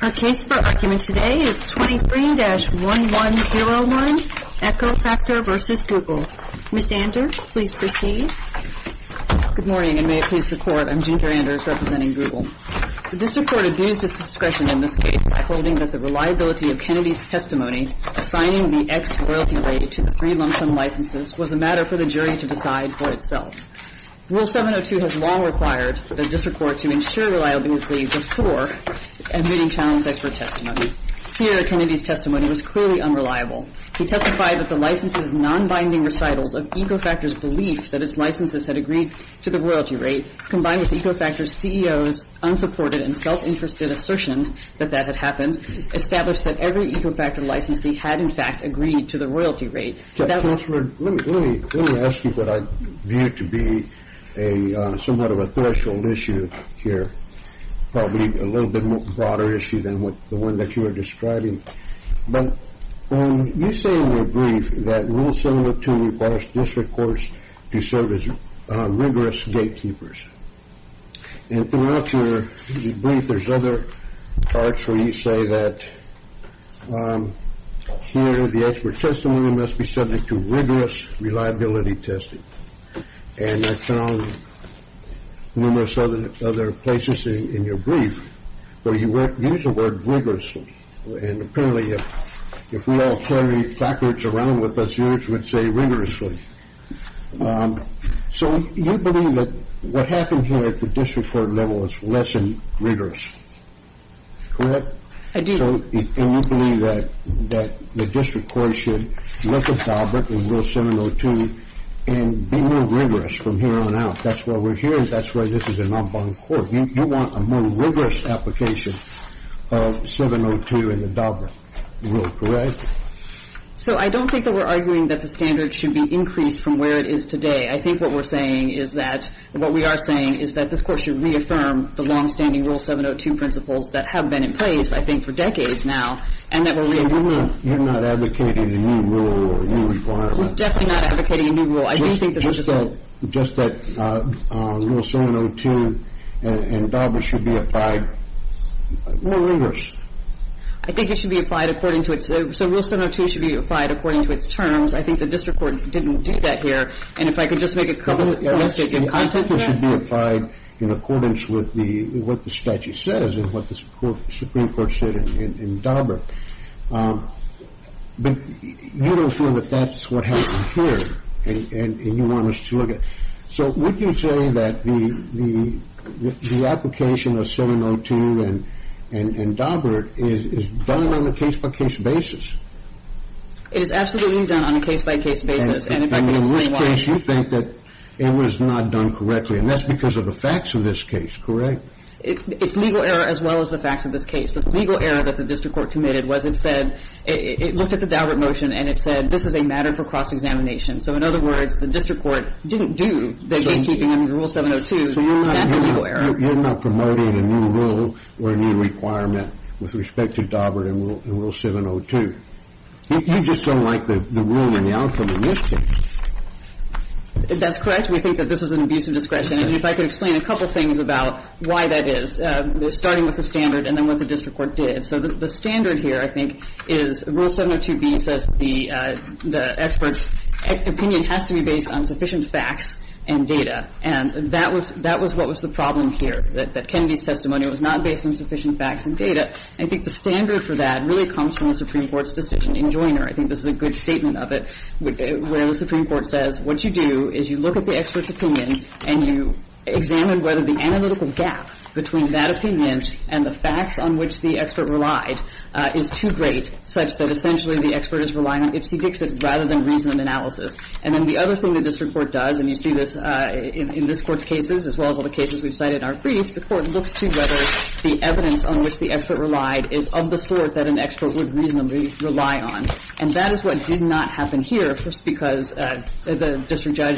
Our case for argument today is 23-1101, EcoFactor v. Google. Ms. Anders, please proceed. Good morning, and may it please the Court, I'm Ginger Anders, representing Google. The District Court abused its discretion in this case by holding that the reliability of Kennedy's testimony assigning the ex-royalty rate to the three lump sum licenses was a matter for the jury to decide for itself. Rule 702 has long required the District Court to ensure reliability before admitting challenged expert testimony. Here, Kennedy's testimony was clearly unreliable. He testified that the licenses' non-binding recitals of EcoFactor's belief that its licenses had agreed to the royalty rate, combined with EcoFactor's CEO's unsupported and self-interested assertion that that had happened, established that every EcoFactor licensee had, in fact, agreed to the royalty rate. Let me ask you what I view to be somewhat of a threshold issue here, probably a little bit more broader issue than the one that you were describing. You say in your brief that Rule 702 requires District Courts to serve as rigorous gatekeepers. And throughout your brief, there's other parts where you say that here the expert testimony must be subject to rigorous reliability testing. And I found numerous other places in your brief where you use the word rigorously. And apparently, if we all carried placards around with us, you would say rigorously. So you believe that what happened here at the District Court level was less than rigorous, correct? I do. And you believe that the District Court should look at Daubert and Rule 702 and be more rigorous from here on out. That's why we're here and that's why this is a non-binding court. You want a more rigorous application of 702 and the Daubert Rule, correct? So I don't think that we're arguing that the standard should be increased from where it is today. I think what we're saying is that what we are saying is that this Court should reaffirm the longstanding Rule 702 principles that have been in place, I think, for decades now and that we're reaffirming. So you're not advocating a new rule or a new requirement? We're definitely not advocating a new rule. Just that Rule 702 and Daubert should be applied more rigorous. I think it should be applied according to its terms. I think the District Court didn't do that here. And if I could just make a couple points to give context to that. I think it should be applied in accordance with what the statute says and what the Supreme Court said in Daubert. But you don't feel that that's what happened here and you want us to look at it. So we can say that the application of 702 and Daubert is done on a case-by-case basis. It is absolutely done on a case-by-case basis. And in this case, you think that it was not done correctly. And that's because of the facts of this case, correct? It's legal error as well as the facts of this case. The legal error that the District Court committed was it said, it looked at the Daubert motion and it said, this is a matter for cross-examination. So in other words, the District Court didn't do the gatekeeping under Rule 702. That's a legal error. You're not promoting a new rule or a new requirement with respect to Daubert and Rule 702. You just don't like the rule in the outcome in this case. That's correct. We think that this was an abuse of discretion. And if I could explain a couple things about why that is, starting with the standard and then what the District Court did. So the standard here, I think, is Rule 702B says the expert's opinion has to be based on sufficient facts and data. And that was what was the problem here, that Kennedy's testimony was not based on sufficient facts and data. And I think the standard for that really comes from the Supreme Court's decision in Joiner. I think this is a good statement of it, where the Supreme Court says what you do is you look at the expert's opinion and you examine whether the analytical gap between that opinion and the facts on which the expert relied is too great, such that essentially the expert is relying on ifsy-dixit rather than reason and analysis. And then the other thing the District Court does, and you see this in this Court's cases as well as all the cases we've cited in our brief, the Court looks to whether the evidence on which the expert relied is of the sort that an expert would reasonably rely on. And that is what did not happen here, because the district judge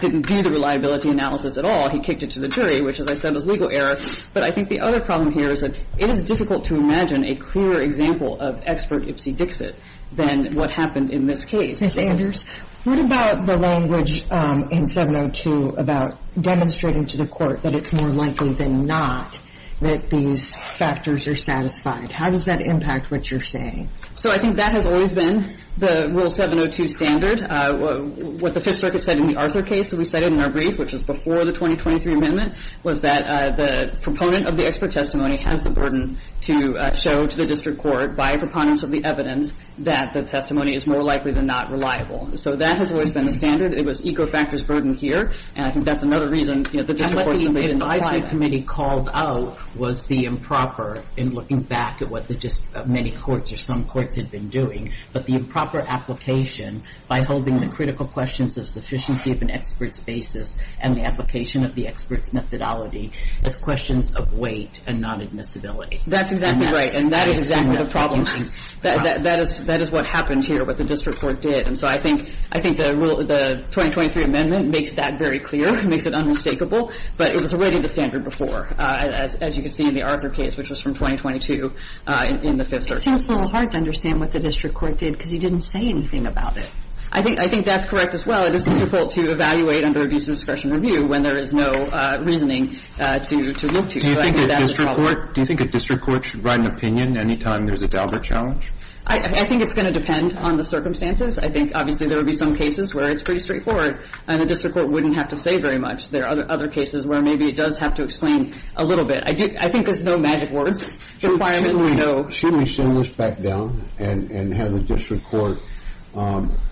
didn't view the reliability analysis at all. He kicked it to the jury, which, as I said, was legal error. But I think the other problem here is that it is difficult to imagine a clearer example of expert ifsy-dixit than what happened in this case. Ms. Andrews, what about the language in 702 about demonstrating to the Court that it's more likely than not that these factors are satisfied? How does that impact what you're saying? So I think that has always been the Rule 702 standard. What the Fifth Circuit said in the Arthur case that we cited in our brief, which was before the 2023 amendment, was that the proponent of the expert testimony has the burden to show to the District Court by a preponderance of the evidence that the testimony is more likely than not reliable. So that has always been the standard. It was Ecofactor's burden here, and I think that's another reason the District What the advisory committee called out was the improper in looking back at what many courts or some courts had been doing, but the improper application by holding the critical questions of sufficiency of an expert's basis and the application of the expert's methodology as questions of weight and non-admissibility. That's exactly right, and that is exactly the problem. That is what happened here, what the District Court did. And so I think the 2023 amendment makes that very clear, makes it unmistakable, but it was already the standard before, as you can see in the Arthur case, which was from 2022 in the Fifth Circuit. It seems a little hard to understand what the District Court did because he didn't say anything about it. I think that's correct as well. It is difficult to evaluate under abuse of discretion review when there is no reasoning to look to. Do you think a District Court should write an opinion any time there's a Dalbert challenge? I think it's going to depend on the circumstances. I think obviously there would be some cases where it's pretty straightforward and a District Court wouldn't have to say very much. There are other cases where maybe it does have to explain a little bit. I think there's no magic words. Requirementally, no. Shouldn't we send this back down and have the District Court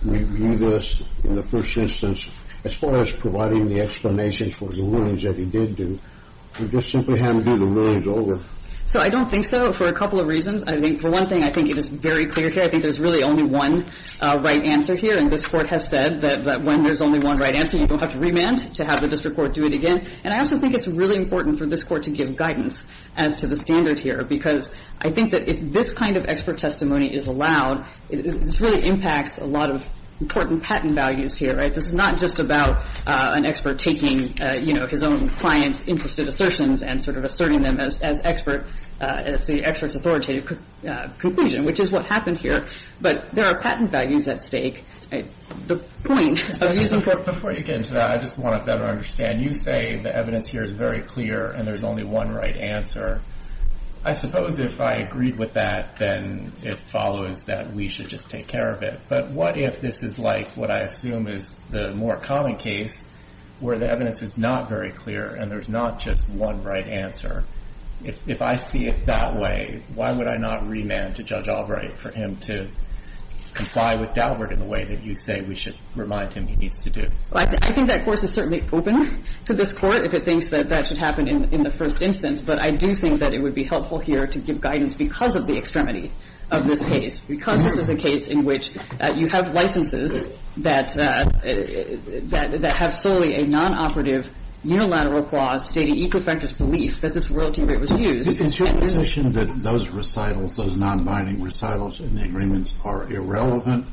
review this in the first instance? As far as providing the explanations for the rulings that he did do, we just simply have him do the rulings over. So I don't think so for a couple of reasons. I think, for one thing, I think it is very clear here. I think there's really only one right answer here, and this Court has said that when there's only one right answer, you don't have to remand to have the District Court do it again. And I also think it's really important for this Court to give guidance as to the standard here because I think that if this kind of expert testimony is allowed, this really impacts a lot of important patent values here, right? This is not just about an expert taking, you know, his own client's interested assertions and sort of asserting them as expert, as the expert's authoritative conclusion, which is what happened here. But there are patent values at stake. The point of using for... Before you get into that, I just want to better understand. You say the evidence here is very clear and there's only one right answer. I suppose if I agreed with that, then it follows that we should just take care of it. But what if this is like what I assume is the more common case where the evidence is not very clear and there's not just one right answer? If I see it that way, why would I not remand to Judge Albright for him to comply with Daubert in the way that you say we should remind him he needs to do? Well, I think that course is certainly open to this Court if it thinks that that should happen in the first instance. But I do think that it would be helpful here to give guidance because of the extremity of this case, because this is a case in which you have licenses that have solely a nonoperative, unilateral clause stating e perfectus belief. That this royalty rate was used... Is your position that those recitals, those nonbinding recitals in the agreements are irrelevant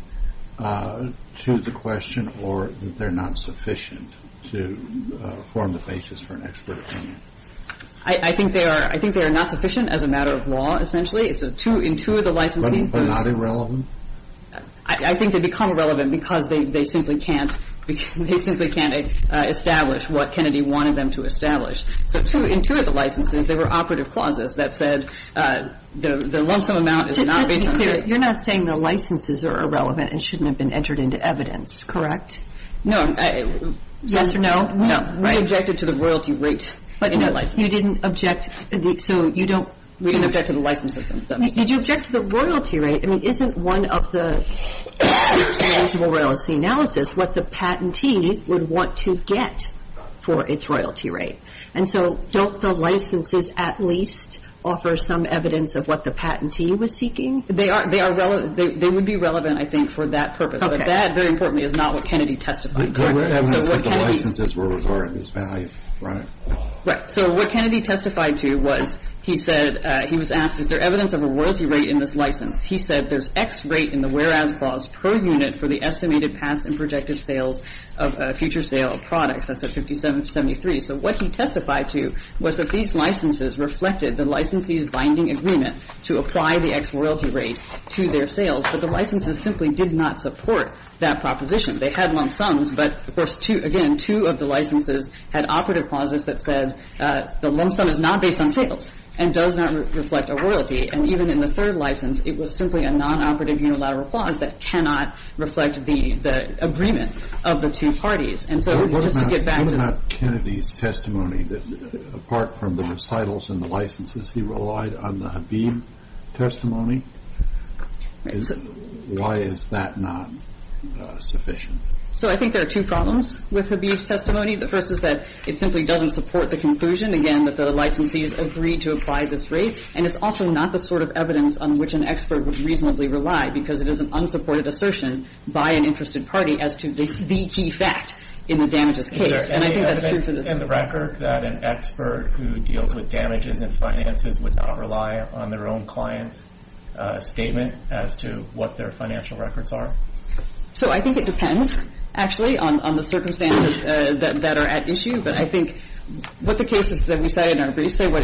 to the question or that they're not sufficient to form the basis for an expert opinion? I think they are not sufficient as a matter of law, essentially. In two of the licenses... But not irrelevant? I think they become irrelevant because they simply can't establish what Kennedy wanted them to establish. So in two of the licenses, there were operative clauses that said the lump sum amount is not... Just to be clear, you're not saying the licenses are irrelevant and shouldn't have been entered into evidence, correct? No. Yes or no? No. We objected to the royalty rate in the licenses. But you didn't object, so you don't... We didn't object to the licenses in the licenses. Did you object to the royalty rate? I mean, isn't one of the standards in reasonable royalty analysis what the patentee would want to get for its royalty rate? And so don't the licenses at least offer some evidence of what the patentee was seeking? They are relevant. They would be relevant, I think, for that purpose. Okay. But that, very importantly, is not what Kennedy testified to. I mean, it's like the licenses were regarded as value, right? Right. So what Kennedy testified to was he said, he was asked, is there evidence of a royalty rate in this license? He said there's X rate in the whereas clause per unit for the estimated past and projected future sale of products. That's at 5773. So what he testified to was that these licenses reflected the licensees' binding agreement to apply the X royalty rate to their sales. But the licenses simply did not support that proposition. They had lump sums, but, of course, again, two of the licenses had operative clauses that said the lump sum is not based on sales and does not reflect a royalty. And even in the third license, it was simply a non-operative unilateral clause that cannot reflect the agreement of the two parties. And so just to get back to the question. What about Kennedy's testimony? Apart from the recitals and the licenses, he relied on the Habib testimony? Why is that not sufficient? So I think there are two problems with Habib's testimony. The first is that it simply doesn't support the conclusion, again, that the licensees agreed to apply this rate. And it's also not the sort of evidence on which an expert would reasonably rely because it is an unsupported assertion by an interested party as to the key fact. In the damages case. And I think that's true. Is there any evidence in the record that an expert who deals with damages and finances would not rely on their own client's statement as to what their financial records are? So I think it depends, actually, on the circumstances that are at issue. But I think what the cases that we cited in our brief say, what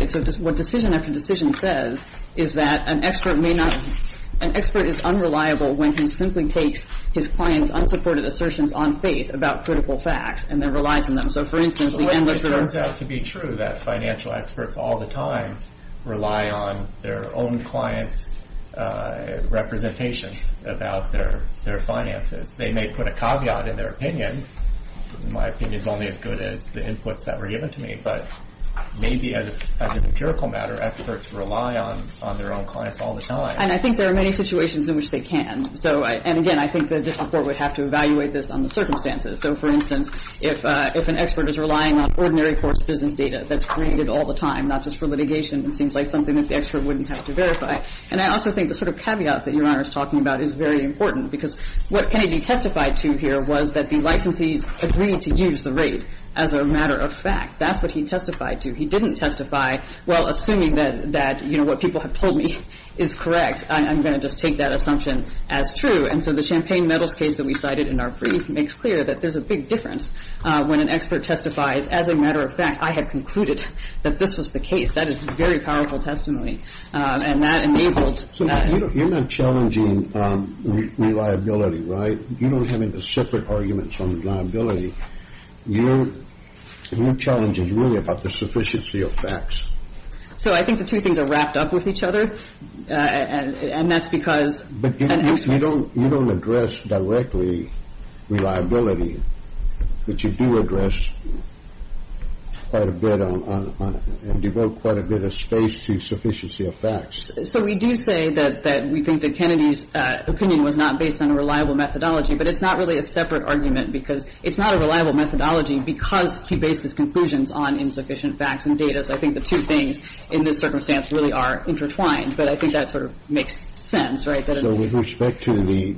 decision after decision says is that an expert may not – an expert is unreliable when he simply takes his client's unsupported assertions on faith about critical facts and then relies on them. So, for instance, the endless – Well, it turns out to be true that financial experts all the time rely on their own clients' representations about their finances. They may put a caveat in their opinion. My opinion is only as good as the inputs that were given to me. But maybe as an empirical matter, experts rely on their own clients all the time. And I think there are many situations in which they can. So, and again, I think the district court would have to evaluate this on the circumstances. So, for instance, if an expert is relying on ordinary court's business data that's created all the time, not just for litigation, it seems like something that the expert wouldn't have to verify. And I also think the sort of caveat that Your Honor is talking about is very important because what Kennedy testified to here was that the licensees agreed to use the rate as a matter of fact. That's what he testified to. He didn't testify, well, assuming that, you know, what people have told me is correct. I'm going to just take that assumption as true. And so the Champaign-Meadows case that we cited in our brief makes clear that there's a big difference when an expert testifies, as a matter of fact, I have concluded that this was the case. That is very powerful testimony. And that enabled that. You're not challenging reliability, right? You don't have any separate arguments on reliability. You're challenging really about the sufficiency of facts. So I think the two things are wrapped up with each other. And that's because an expert's... But you don't address directly reliability. But you do address quite a bit on and devote quite a bit of space to sufficiency of facts. So we do say that we think that Kennedy's opinion was not based on a reliable methodology. But it's not really a separate argument because it's not a reliable methodology because he bases conclusions on insufficient facts and data. I think the two things in this circumstance really are intertwined. But I think that sort of makes sense, right? So with respect to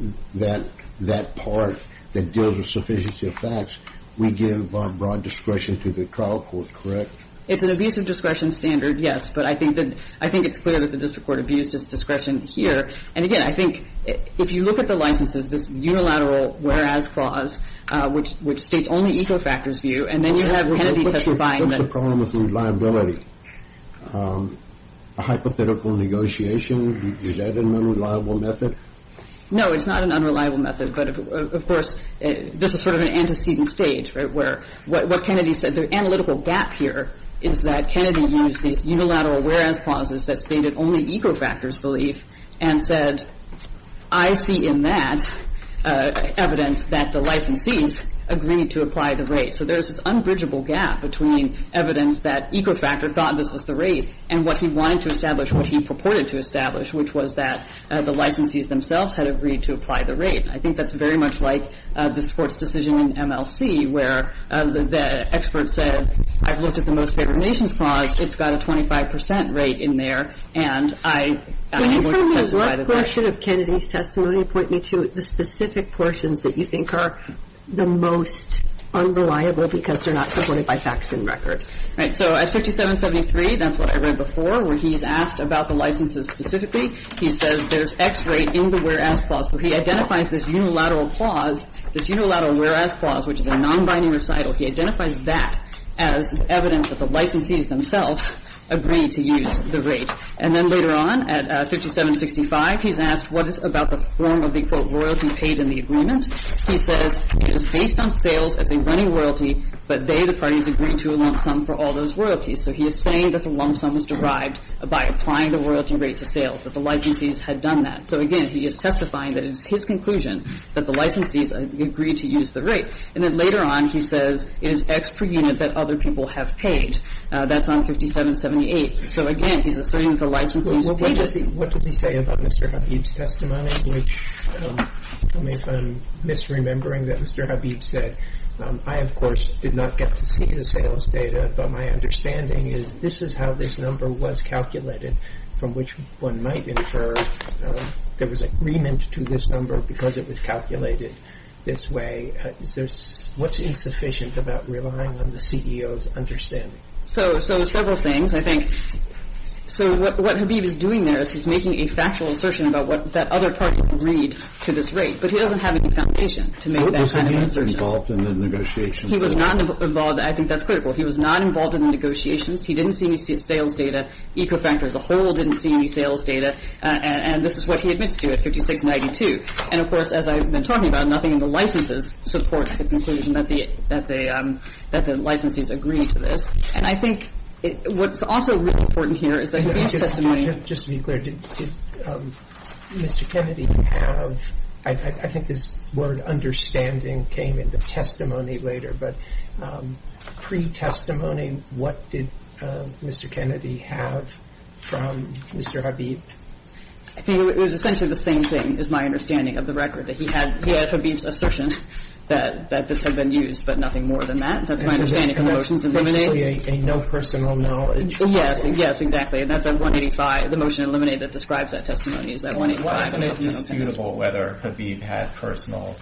that part that deals with sufficiency of facts, we give broad discretion to the trial court, correct? It's an abuse of discretion standard, yes. But I think it's clear that the district court abused its discretion here. And, again, I think if you look at the licenses, this unilateral whereas clause, which states only eco factors view, and then you have Kennedy testifying... What's the problem with reliability? A hypothetical negotiation? Is that an unreliable method? No, it's not an unreliable method. But, of course, this is sort of an antecedent stage where what Kennedy said, the analytical gap here is that Kennedy used these unilateral whereas clauses that stated only eco factors belief and said, I see in that evidence that the licensees agreed to apply the rate. So there's this unbridgeable gap between evidence that eco factor thought this was the rate and what he wanted to establish, what he purported to establish, which was that the licensees themselves had agreed to apply the rate. I think that's very much like this court's decision in MLC where the expert said, I've looked at the most favored nations clause. It's got a 25 percent rate in there, and I am going to testify to that. Can you tell me what portion of Kennedy's testimony would point me to the specific portions that you think are the most unreliable because they're not supported by facts and record? So at 5773, that's what I read before, where he's asked about the licenses specifically. He says there's X rate in the whereas clause. So he identifies this unilateral clause, this unilateral whereas clause, which is a nonbinding recital. He identifies that as evidence that the licensees themselves agreed to use the rate. And then later on at 5765, he's asked what is about the form of the, quote, the licensees themselves agreed to use the rate in the agreement. He says it is based on sales as a running royalty, but they, the parties, agreed to a lump sum for all those royalties. So he is saying that the lump sum was derived by applying the royalty rate to sales, that the licensees had done that. So, again, he is testifying that it is his conclusion that the licensees agreed to use the rate. And then later on, he says it is X per unit that other people have paid. That's on 5778. So, again, he's asserting that the licensees were paid. What does he say about Mr. Habib's testimony? If I'm misremembering that Mr. Habib said, I, of course, did not get to see the sales data, but my understanding is this is how this number was calculated, from which one might infer there was agreement to this number because it was calculated this way. What's insufficient about relying on the CEO's understanding? So several things. I think so what Habib is doing there is he's making a factual assertion about what that other parties agreed to this rate. But he doesn't have any foundation to make that kind of assertion. He was not involved. I think that's critical. He was not involved in the negotiations. He didn't see any sales data. Ecofactor as a whole didn't see any sales data. And this is what he admits to at 5692. And, of course, as I've been talking about, nothing in the licenses supports the conclusion that the licensees agreed to this. And I think what's also really important here is that Habib's testimony Just to be clear, did Mr. Kennedy have I think this word understanding came into testimony later. But pre-testimony, what did Mr. Kennedy have from Mr. Habib? I think it was essentially the same thing is my understanding of the record, that he had Habib's assertion that this had been used, but nothing more than that. That's my understanding of the motions. It's basically a no personal knowledge. Yes. Yes, exactly. And that's at 185, the motion eliminated that describes that testimony is that 185. Well, I think it's disputable whether Habib had personal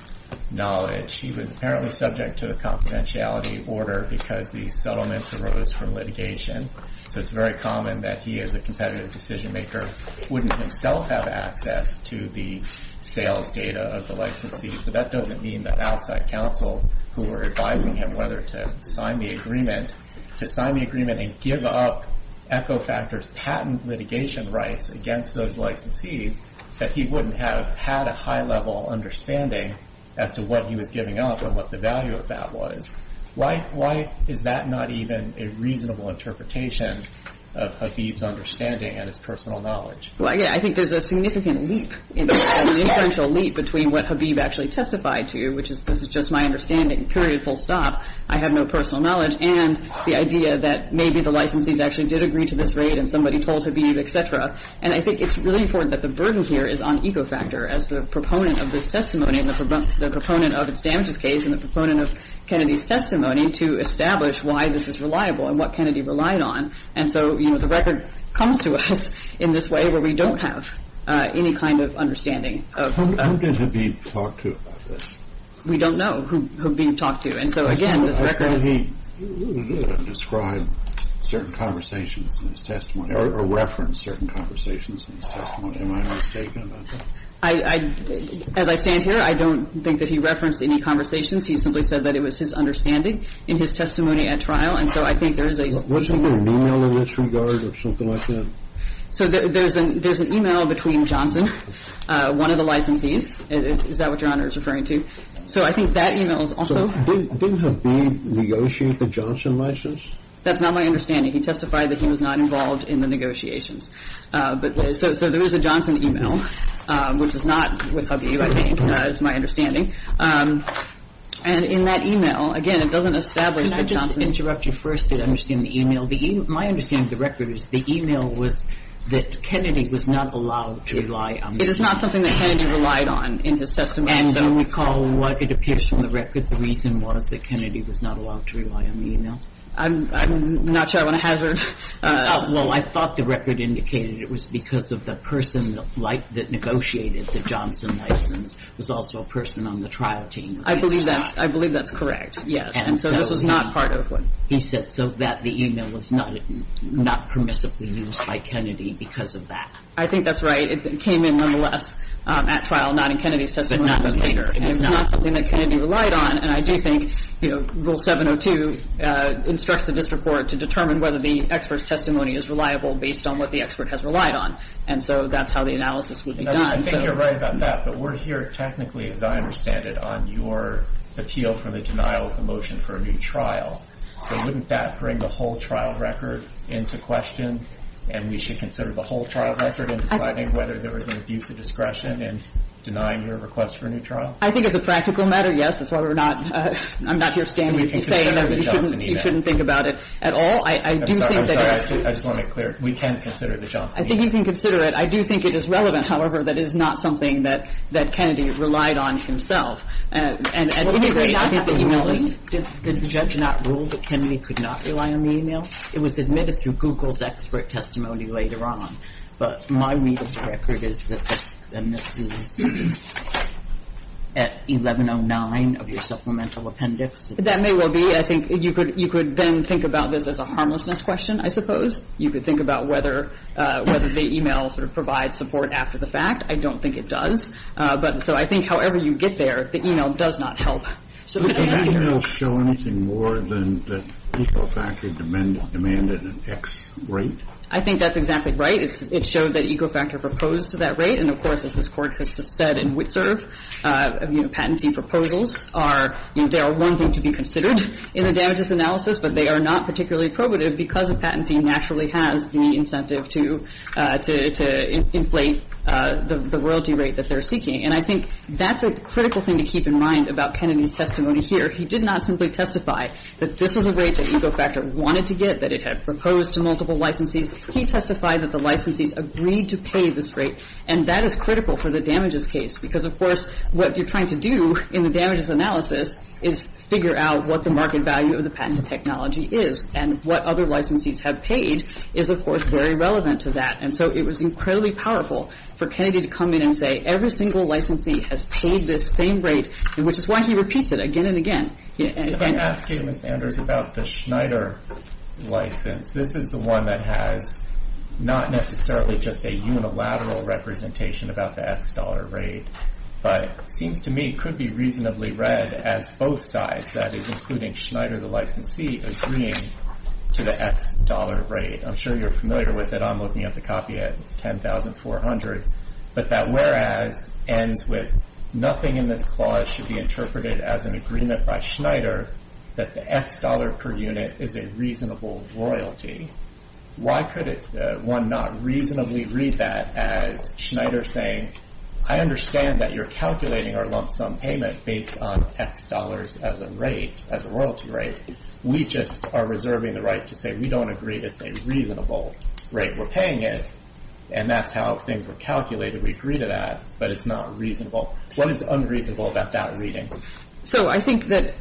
knowledge. He was apparently subject to the confidentiality order because the settlements arose from litigation. So it's very common that he, as a competitive decision maker, wouldn't himself have access to the sales data of the licensees. But that doesn't mean that outside counsel who were advising him whether to sign the agreement, to sign the agreement and give up Echo Factor's patent litigation rights against those licensees, that he wouldn't have had a high-level understanding as to what he was giving up and what the value of that was. Why is that not even a reasonable interpretation of Habib's understanding and his personal knowledge? Well, again, I think there's a significant leap between what Habib actually testified to, which is this is just my understanding, period, full stop, I have no personal knowledge, and the idea that maybe the licensees actually did agree to this rate and somebody told Habib, et cetera. And I think it's really important that the burden here is on Echo Factor as the proponent of this testimony and the proponent of its damages case and the proponent of Kennedy's testimony to establish why this is reliable and what Kennedy relied on. And so, you know, the record comes to us in this way where we don't have any kind of understanding of... Who did Habib talk to about this? We don't know who Habib talked to. And so, again, this record is... I thought he described certain conversations in his testimony or referenced certain conversations in his testimony. Am I mistaken about that? As I stand here, I don't think that he referenced any conversations. He simply said that it was his understanding in his testimony at trial. And so I think there is a... Wasn't there an email in this regard or something like that? So there's an email between Johnson, one of the licensees. Is that what Your Honor is referring to? So I think that email is also... Didn't Habib negotiate the Johnson license? That's not my understanding. He testified that he was not involved in the negotiations. So there is a Johnson email, which is not with Habib, I think, is my understanding. And in that email, again, it doesn't establish that Johnson... Can I just interrupt you first to understand the email? My understanding of the record is the email was that Kennedy was not allowed to rely on... It is not something that Kennedy relied on in his testimony. And when you recall what it appears from the record, the reason was that Kennedy was not allowed to rely on the email? I'm not sure I want to hazard... Well, I thought the record indicated it was because of the person that negotiated the Johnson license was also a person on the trial team. I believe that's correct, yes. And so this was not part of what... He said so that the email was not permissibly used by Kennedy because of that. I think that's right. It came in nonetheless at trial, not in Kennedy's testimony. But not later. And it's not something that Kennedy relied on. And I do think Rule 702 instructs the district court to determine whether the expert's testimony is reliable based on what the expert has relied on. And so that's how the analysis would be done. I think you're right about that. But we're here technically, as I understand it, on your appeal for the denial of the motion for a new trial. So wouldn't that bring the whole trial record into question? And we should consider the whole trial record in deciding whether there was an abuse of discretion in denying your request for a new trial? I think as a practical matter, yes. That's why we're not... I'm not here standing to say that you shouldn't think about it at all. I do think that... I just want to make clear. We can consider the Johnson email. I think you can consider it. I do think it is relevant, however, that it is not something that Kennedy relied on himself. Did the judge not rule that Kennedy could not rely on the email? It was admitted through Google's expert testimony later on. But my read of the record is that this is at 1109 of your supplemental appendix. That may well be. I think you could then think about this as a harmlessness question, I suppose. You could think about whether the email sort of provides support after the fact. I don't think it does. So I think however you get there, the email does not help. Does the email show anything more than that Ecofactor demanded an X rate? I think that's exactly right. It showed that Ecofactor proposed to that rate. And, of course, as this Court has said in Witserv, patentee proposals are one thing to be considered in the damages analysis, but they are not particularly probative because a patentee naturally has the incentive to inflate the royalty rate that they're seeking. And I think that's a critical thing to keep in mind about Kennedy's testimony here. He did not simply testify that this was a rate that Ecofactor wanted to get, that it had proposed to multiple licensees. He testified that the licensees agreed to pay this rate. And that is critical for the damages case because, of course, what you're trying to do in the damages analysis is figure out what the market value of the patent technology is. And what other licensees have paid is, of course, very relevant to that. And so it was incredibly powerful for Kennedy to come in and say, every single licensee has paid this same rate, which is why he repeats it again and again. If I ask you, Ms. Anders, about the Schneider license, this is the one that has not necessarily just a unilateral representation about the X dollar rate, but seems to me could be reasonably read as both sides, that is, including Schneider, the licensee, agreeing to the X dollar rate. I'm sure you're familiar with it. I'm looking at the copy at 10,400. But that whereas ends with nothing in this clause should be interpreted as an agreement by Schneider that the X dollar per unit is a reasonable royalty. Why could one not reasonably read that as Schneider saying, I understand that you're calculating our lump sum payment based on X dollars as a rate, as a royalty rate. We just are reserving the right to say we don't agree that it's a reasonable rate. We're paying it. And that's how things were calculated. We agree to that. But it's not reasonable. What is unreasonable about that reading? So I think that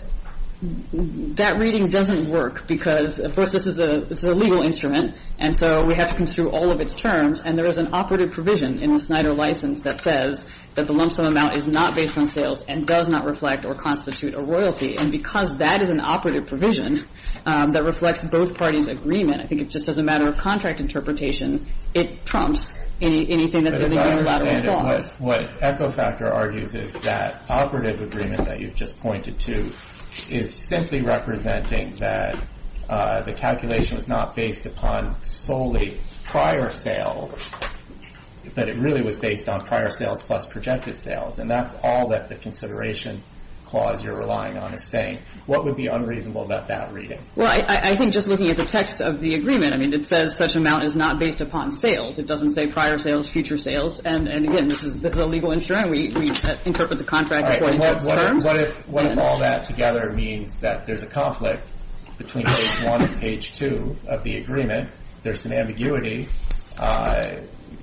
that reading doesn't work because, of course, this is a legal instrument. And so we have to come through all of its terms. And there is an operative provision in the Schneider license that says that the lump sum amount is not based on sales and does not reflect or constitute a royalty. And because that is an operative provision that reflects both parties' agreement, I think it's just as a matter of contract interpretation, it trumps anything that's in the unilateral clause. But as I understand it, what Echo Factor argues is that operative agreement that you've just pointed to is simply representing that the calculation was not based upon solely prior sales, but it really was based on prior sales plus projected sales. And that's all that the consideration clause you're relying on is saying. What would be unreasonable about that reading? Well, I think just looking at the text of the agreement, I mean, it says such amount is not based upon sales. It doesn't say prior sales, future sales. And, again, this is a legal instrument. We interpret the contract according to its terms. What if all that together means that there's a conflict between page one and page two of the agreement? There's an ambiguity.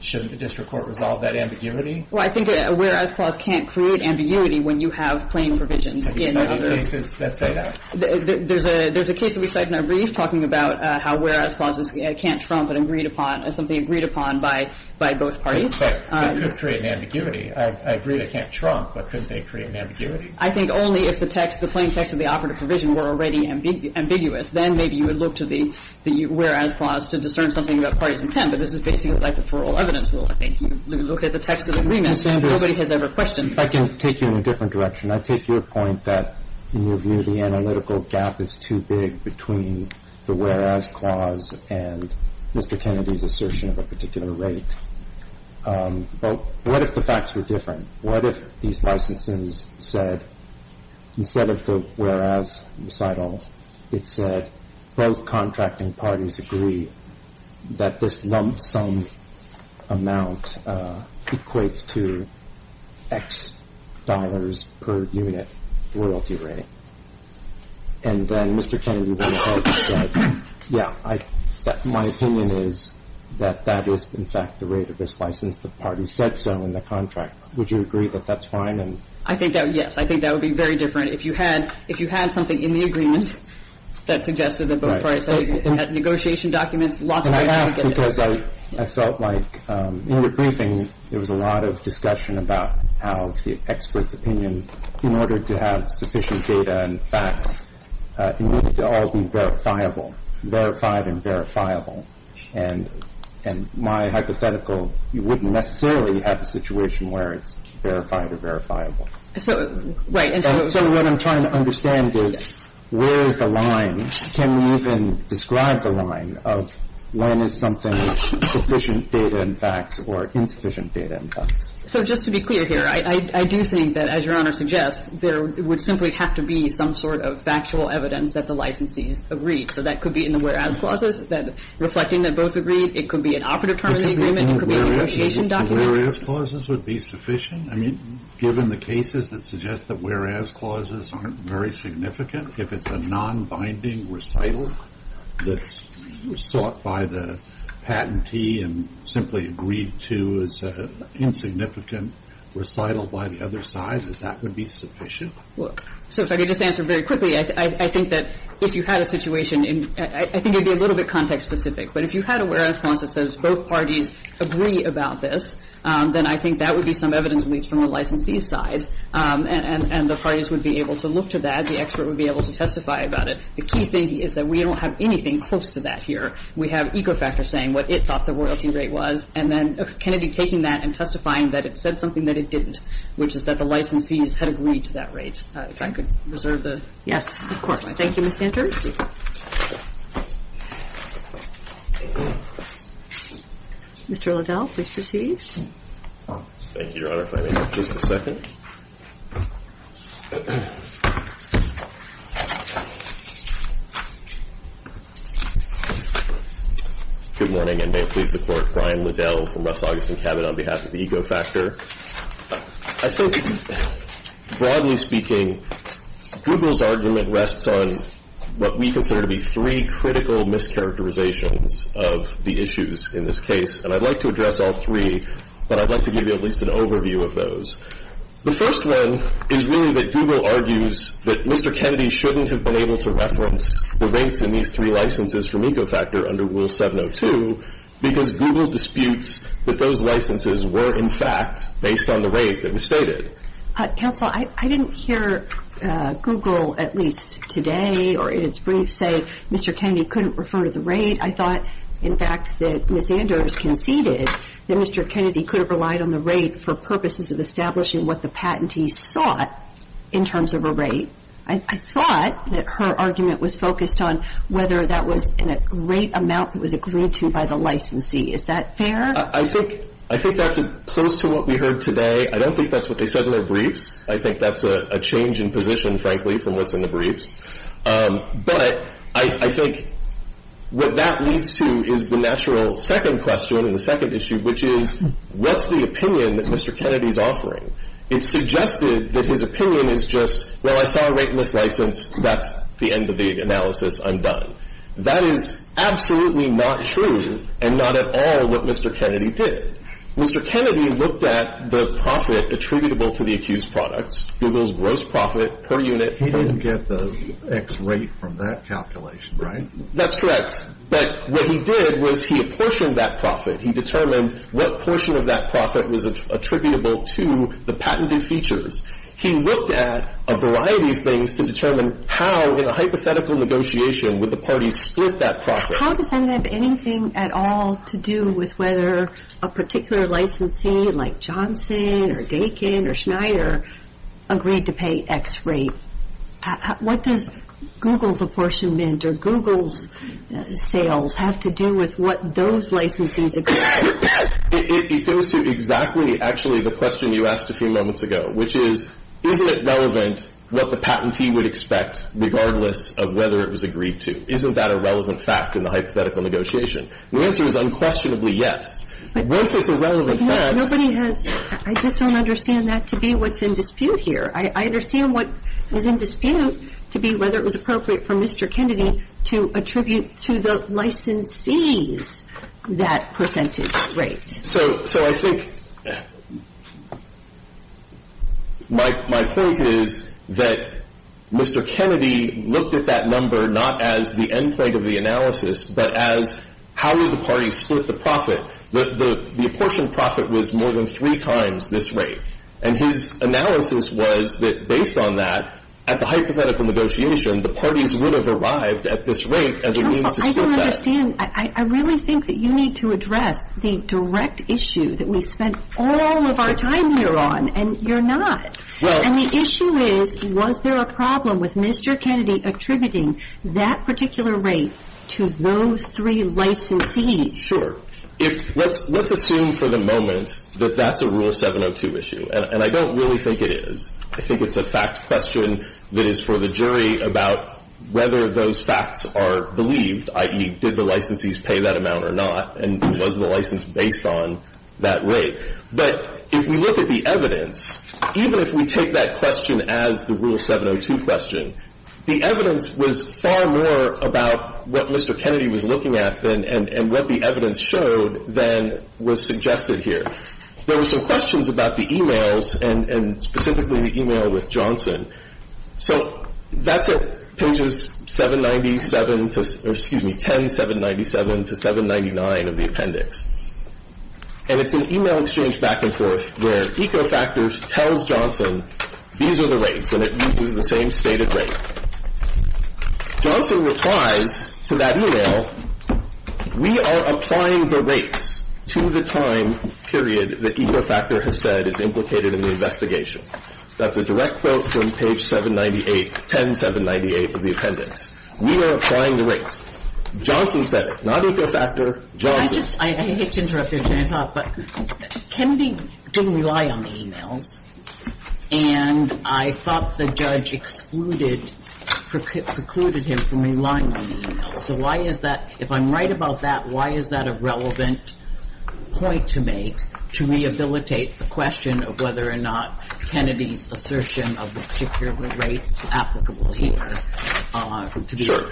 Shouldn't the district court resolve that ambiguity? Well, I think a whereas clause can't create ambiguity when you have plain provisions. Have you seen any cases that say that? There's a case that we cite in our brief talking about how whereas clauses can't trump an agreed upon as something agreed upon by both parties. But it could create an ambiguity. I agree they can't trump, but couldn't they create an ambiguity? I think only if the plain text of the operative provision were already ambiguous. Then maybe you would look to the whereas clause to discern something about parties' intent. But this is basically like the for all evidence rule. I think you look at the text of the agreement, nobody has ever questioned it. Ms. Sanders, if I can take you in a different direction. I take your point that in your view the analytical gap is too big between the whereas clause and Mr. Kennedy's assertion of a particular rate. What if the facts were different? What if these licenses said instead of the whereas recital, it said both contracting parties agree that this lump sum amount equates to X dollars per unit royalty rate. And then Mr. Kennedy would have said, yeah, my opinion is that that is in fact the rate of this license. The parties said so in the contract. Would you agree that that's fine? I think that, yes. I think that would be very different if you had something in the agreement that suggested that both parties had negotiation documents. And I ask because I felt like in the briefing there was a lot of discussion about how the expert's opinion, in order to have sufficient data and facts, it needed to all be verifiable, verified and verifiable. And my hypothetical, you wouldn't necessarily have a situation where it's verified or verifiable. So what I'm trying to understand is where is the line? Can you even describe the line of when is something sufficient data and facts or insufficient data and facts? So just to be clear here, I do think that, as Your Honor suggests, there would simply have to be some sort of factual evidence that the licensees agreed. So that could be in the whereas clauses, reflecting that both agreed. It could be an operative term of the agreement. It could be a negotiation document. The whereas clauses would be sufficient? I mean, given the cases that suggest that whereas clauses aren't very significant, if it's a nonbinding recital that's sought by the patentee and simply agreed to as an insignificant recital by the other side, that that would be sufficient? Well, so if I could just answer very quickly, I think that if you had a situation in – I think it would be a little bit context specific. But if you had a whereas clause that says both parties agree about this, then I think that would be some evidence at least from the licensee's side. And the parties would be able to look to that. And then the expert would be able to testify about it. The key thing is that we don't have anything close to that here. We have Ecofactor saying what it thought the royalty rate was. And then Kennedy taking that and testifying that it said something that it didn't, which is that the licensees had agreed to that rate. If I could reserve the time. Yes, of course. Thank you, Ms. Sanders. Mr. Liddell, please proceed. Thank you, Your Honor. If I may have just a second. Good morning, and may it please the Court. Brian Liddell from Russ Augustin Cabot on behalf of Ecofactor. I think broadly speaking, Google's argument rests on what we consider to be three critical mischaracterizations of the issues in this case. And I'd like to address all three, but I'd like to give you at least an overview of those. The first one is really that Google argues that Mr. Kennedy shouldn't have been able to reference the rates in these three licenses from Ecofactor under Rule 702 because Google disputes that those licenses were, in fact, based on the rate that was stated. Counsel, I didn't hear Google, at least today or in its brief, say Mr. Kennedy couldn't refer to the rate. I thought, in fact, that Ms. Anders conceded that Mr. Kennedy could have relied on the rate for purposes of establishing what the patentee sought in terms of a rate. I thought that her argument was focused on whether that was in a great amount that was agreed to by the licensee. Is that fair? I think that's close to what we heard today. I don't think that's what they said in their briefs. I think that's a change in position, frankly, from what's in the briefs. But I think what that leads to is the natural second question, the second issue, which is what's the opinion that Mr. Kennedy's offering? It's suggested that his opinion is just, well, I saw a rate in this license. That's the end of the analysis. I'm done. That is absolutely not true and not at all what Mr. Kennedy did. Mr. Kennedy looked at the profit attributable to the accused products, Google's gross profit per unit. He didn't get the X rate from that calculation, right? That's correct. But what he did was he apportioned that profit. He determined what portion of that profit was attributable to the patented features. He looked at a variety of things to determine how, in a hypothetical negotiation, would the parties split that profit. How does that have anything at all to do with whether a particular licensee, like Johnson or Dakin or Schneider, agreed to pay X rate? What does Google's apportionment or Google's sales have to do with what those licensees agreed to? It goes to exactly, actually, the question you asked a few moments ago, which is isn't it relevant what the patentee would expect regardless of whether it was agreed to? Isn't that a relevant fact in the hypothetical negotiation? The answer is unquestionably yes. Once it's a relevant fact. I just don't understand that to be what's in dispute here. I understand what is in dispute to be whether it was appropriate for Mr. Kennedy to attribute to the licensees that percentage rate. So I think my point is that Mr. Kennedy looked at that number not as the end point of the analysis, but as how do the parties split the profit. The apportioned profit was more than three times this rate. And his analysis was that based on that, at the hypothetical negotiation, the parties would have arrived at this rate as a means to split that. I don't understand. I really think that you need to address the direct issue that we spent all of our time here on, and you're not. And the issue is was there a problem with Mr. Kennedy attributing that particular rate to those three licensees? Sure. Let's assume for the moment that that's a Rule 702 issue. And I don't really think it is. I think it's a fact question that is for the jury about whether those facts are believed, i.e., did the licensees pay that amount or not, and was the license based on that rate. But if we look at the evidence, even if we take that question as the Rule 702 question, the evidence was far more about what Mr. Kennedy was looking at and what the evidence showed than was suggested here. There were some questions about the e-mails, and specifically the e-mail with Johnson. So that's at pages 797 to, or excuse me, 10797 to 799 of the appendix. And it's an e-mail exchange back and forth where EcoFactors tells Johnson, these are the rates, and it uses the same stated rate. Johnson replies to that e-mail, we are applying the rates to the time period that EcoFactor has said is implicated in the investigation. That's a direct quote from page 798, 10798 of the appendix. We are applying the rates. Johnson said it. Not EcoFactor. Johnson. I hate to interrupt your time off, but Kennedy didn't rely on the e-mails, and I thought the judge excluded, precluded him from relying on the e-mails. So why is that? If I'm right about that, why is that a relevant point to make to rehabilitate the question of whether or not Kennedy's assertion of the particular rate is applicable here? Sure.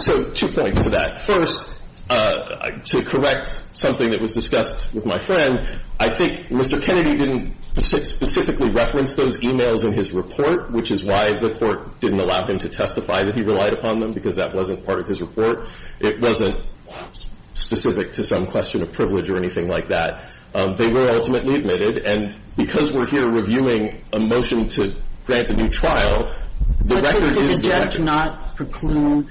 So two points to that. First, to correct something that was discussed with my friend, I think Mr. Kennedy didn't specifically reference those e-mails in his report, which is why the court didn't allow him to testify that he relied upon them, because that wasn't part of his report. It wasn't specific to some question of privilege or anything like that. They were ultimately admitted. And because we're here reviewing a motion to grant a new trial, the record is that the judge did not preclude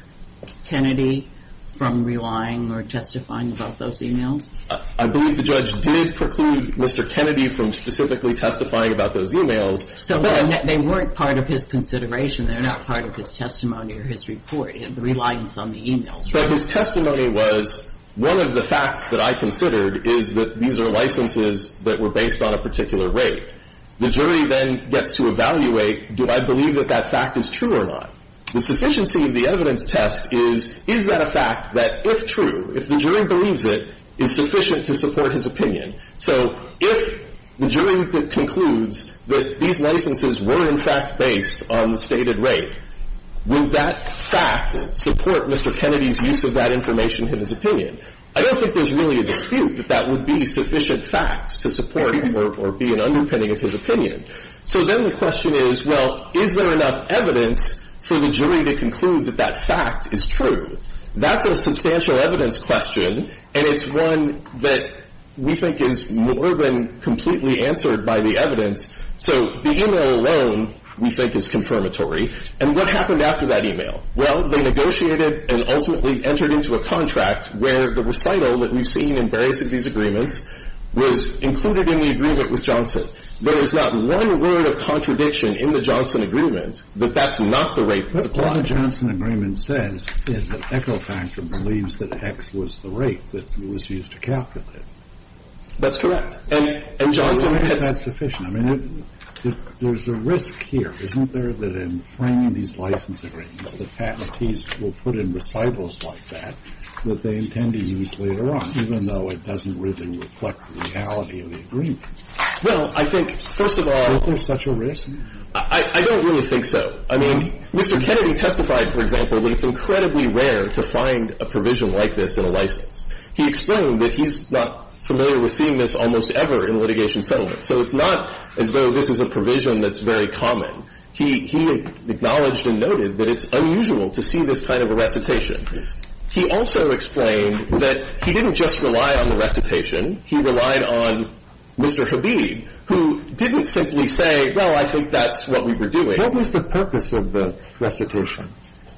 Kennedy from relying or testifying about those e-mails. I believe the judge did preclude Mr. Kennedy from specifically testifying about those e-mails. So they weren't part of his consideration. They're not part of his testimony or his report, the reliance on the e-mails. But his testimony was one of the facts that I considered is that these are licenses that were based on a particular rate. The jury then gets to evaluate, do I believe that that fact is true or not? The sufficiency of the evidence test is, is that a fact that, if true, if the jury believes it, is sufficient to support his opinion? So if the jury concludes that these licenses were, in fact, based on the stated rate, would that fact support Mr. Kennedy's use of that information in his opinion? I don't think there's really a dispute that that would be sufficient facts to support him or be an underpinning of his opinion. So then the question is, well, is there enough evidence for the jury to conclude that that fact is true? That's a substantial evidence question, and it's one that we think is more than completely answered by the evidence. So the e-mail alone, we think, is confirmatory. And what happened after that e-mail? Well, they negotiated and ultimately entered into a contract where the recital that we've seen in various of these agreements was included in the agreement with Johnson. There is not one word of contradiction in the Johnson agreement that that's not the rate that's applied. But what the Johnson agreement says is that Echo Factor believes that X was the rate that was used to calculate it. That's correct. And Johnson said that's sufficient. I mean, there's a risk here, isn't there, that in framing these license agreements, the faculties will put in recitals like that that they intend to use later on, even though it doesn't really reflect the reality of the agreement? Well, I think, first of all, I don't really think so. I mean, Mr. Kennedy testified, for example, that it's incredibly rare to find a provision like this in a license. He explained that he's not familiar with seeing this almost ever in litigation settlements. So it's not as though this is a provision that's very common. He acknowledged and noted that it's unusual to see this kind of a recitation. He also explained that he didn't just rely on the recitation. He relied on Mr. Habib, who didn't simply say, well, I think that's what we were doing. What was the purpose of the recitation?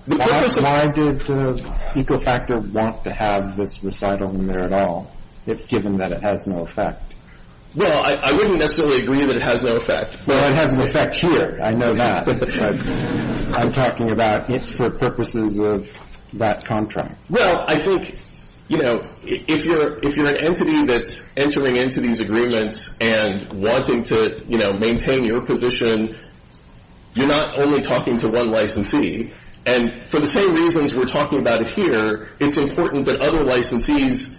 Why did Echo Factor want to have this recital in there at all, given that it has no effect? Well, I wouldn't necessarily agree that it has no effect. Well, it has an effect here. I know that. But I'm talking about it for purposes of that contract. Well, I think, you know, if you're an entity that's entering into these agreements and wanting to, you know, maintain your position, you're not only talking to one licensee. And for the same reasons we're talking about here, it's important that other licensees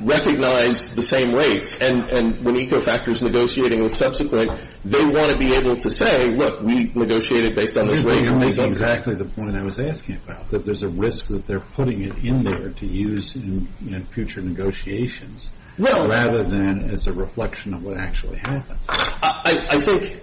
recognize the same rates. And when Echo Factor is negotiating with subsequent, they want to be able to say, look, we negotiated based on this rate. You know, that's exactly the point I was asking about, that there's a risk that they're putting it in there to use in future negotiations. No. Rather than as a reflection of what actually happened. I think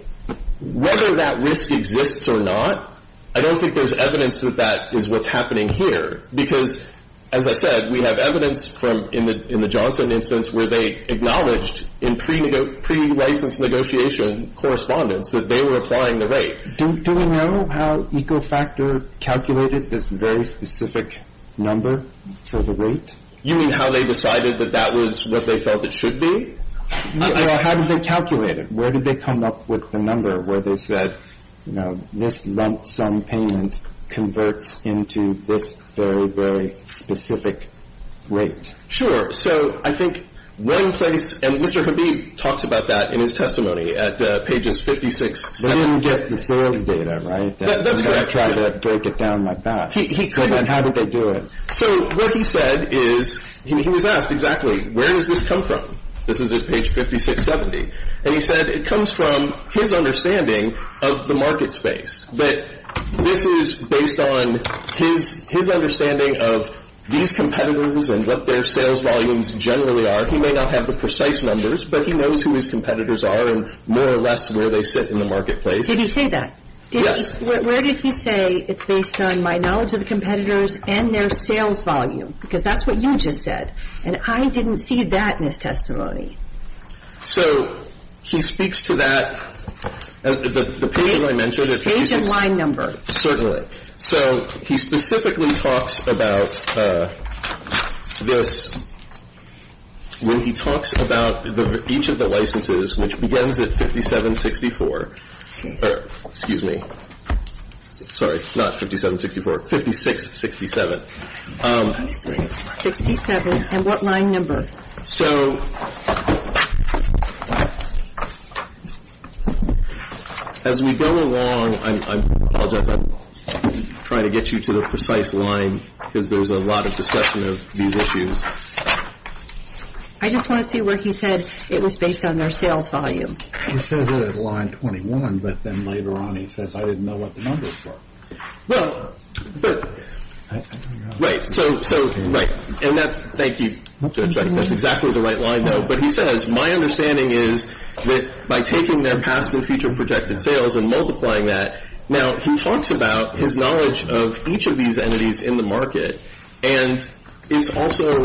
whether that risk exists or not, I don't think there's evidence that that is what's happening here. Because, as I said, we have evidence from in the Johnson instance where they acknowledged in pre-licensed negotiation correspondence that they were applying the rate. Do we know how Echo Factor calculated this very specific number for the rate? You mean how they decided that that was what they felt it should be? How did they calculate it? Where did they come up with the number where they said, you know, this lump sum payment converts into this very, very specific rate? Sure. So I think one place, and Mr. Habib talks about that in his testimony at pages 56, 7. They didn't get the sales data, right? That's where I try to break it down like that. Go ahead. How did they do it? So what he said is, he was asked exactly, where does this come from? This is at page 56, 70. And he said it comes from his understanding of the market space. But this is based on his understanding of these competitors and what their sales volumes generally are. He may not have the precise numbers, but he knows who his competitors are and more or less where they sit in the marketplace. Did he say that? Yes. Where did he say it's based on my knowledge of the competitors and their sales volume? Because that's what you just said. And I didn't see that in his testimony. So he speaks to that at the page that I mentioned. Page and line number. Certainly. So he specifically talks about this when he talks about each of the licenses, which begins at 57, 64. Excuse me. Sorry. Not 57, 64. 56, 67. 67. And what line number? So as we go along, I apologize. I'm trying to get you to the precise line because there's a lot of discussion of these issues. I just want to see where he said it was based on their sales volume. It says it at line 21, but then later on he says I didn't know what the numbers were. Well, but, right. So, right. And that's, thank you, Judge, that's exactly the right line though. But he says my understanding is that by taking their past and future projected sales and multiplying that, now he talks about his knowledge of each of these entities in the market, and it's also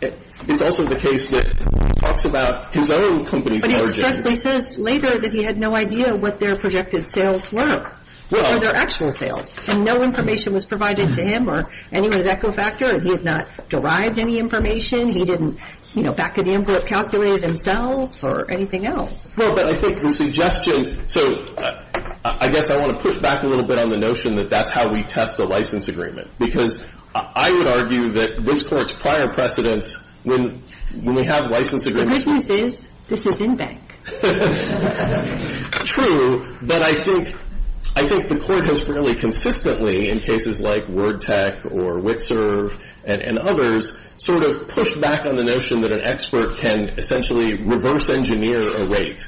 the case that he talks about his own company's knowledge. But he expressly says later that he had no idea what their projected sales were. Well. Or their actual sales. And no information was provided to him or anyone at Echo Factor. He had not derived any information. He didn't, you know, back-of-the-envelope calculate it himself or anything else. Well, but I think the suggestion, so I guess I want to push back a little bit on the notion that that's how we test a license agreement. Because I would argue that this Court's prior precedence when we have license agreements. The good news is this is in bank. True. But I think the Court has really consistently in cases like Word Tech or Witserv and others sort of pushed back on the notion that an expert can essentially reverse engineer a rate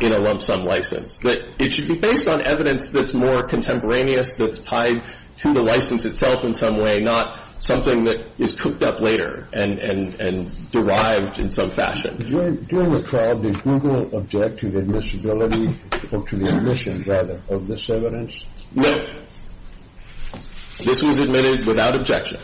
in a lump sum license. That it should be based on evidence that's more contemporaneous, that's tied to the license itself in some way, not something that is cooked up later and derived in some fashion. During the trial, did Google object to the admissibility or to the omission, rather, of this evidence? No. This was admitted without objection.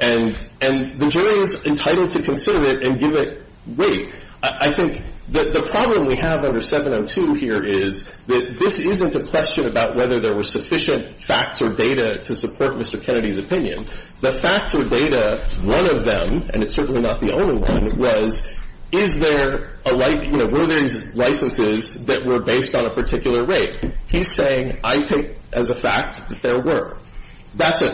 And the jury is entitled to consider it and give it weight. I think the problem we have under 702 here is that this isn't a question about whether there were sufficient facts or data to support Mr. Kennedy's opinion. The facts or data, one of them, and it's certainly not the only one, was is there a like, you know, were there licenses that were based on a particular rate. He's saying I take as a fact that there were. That's a,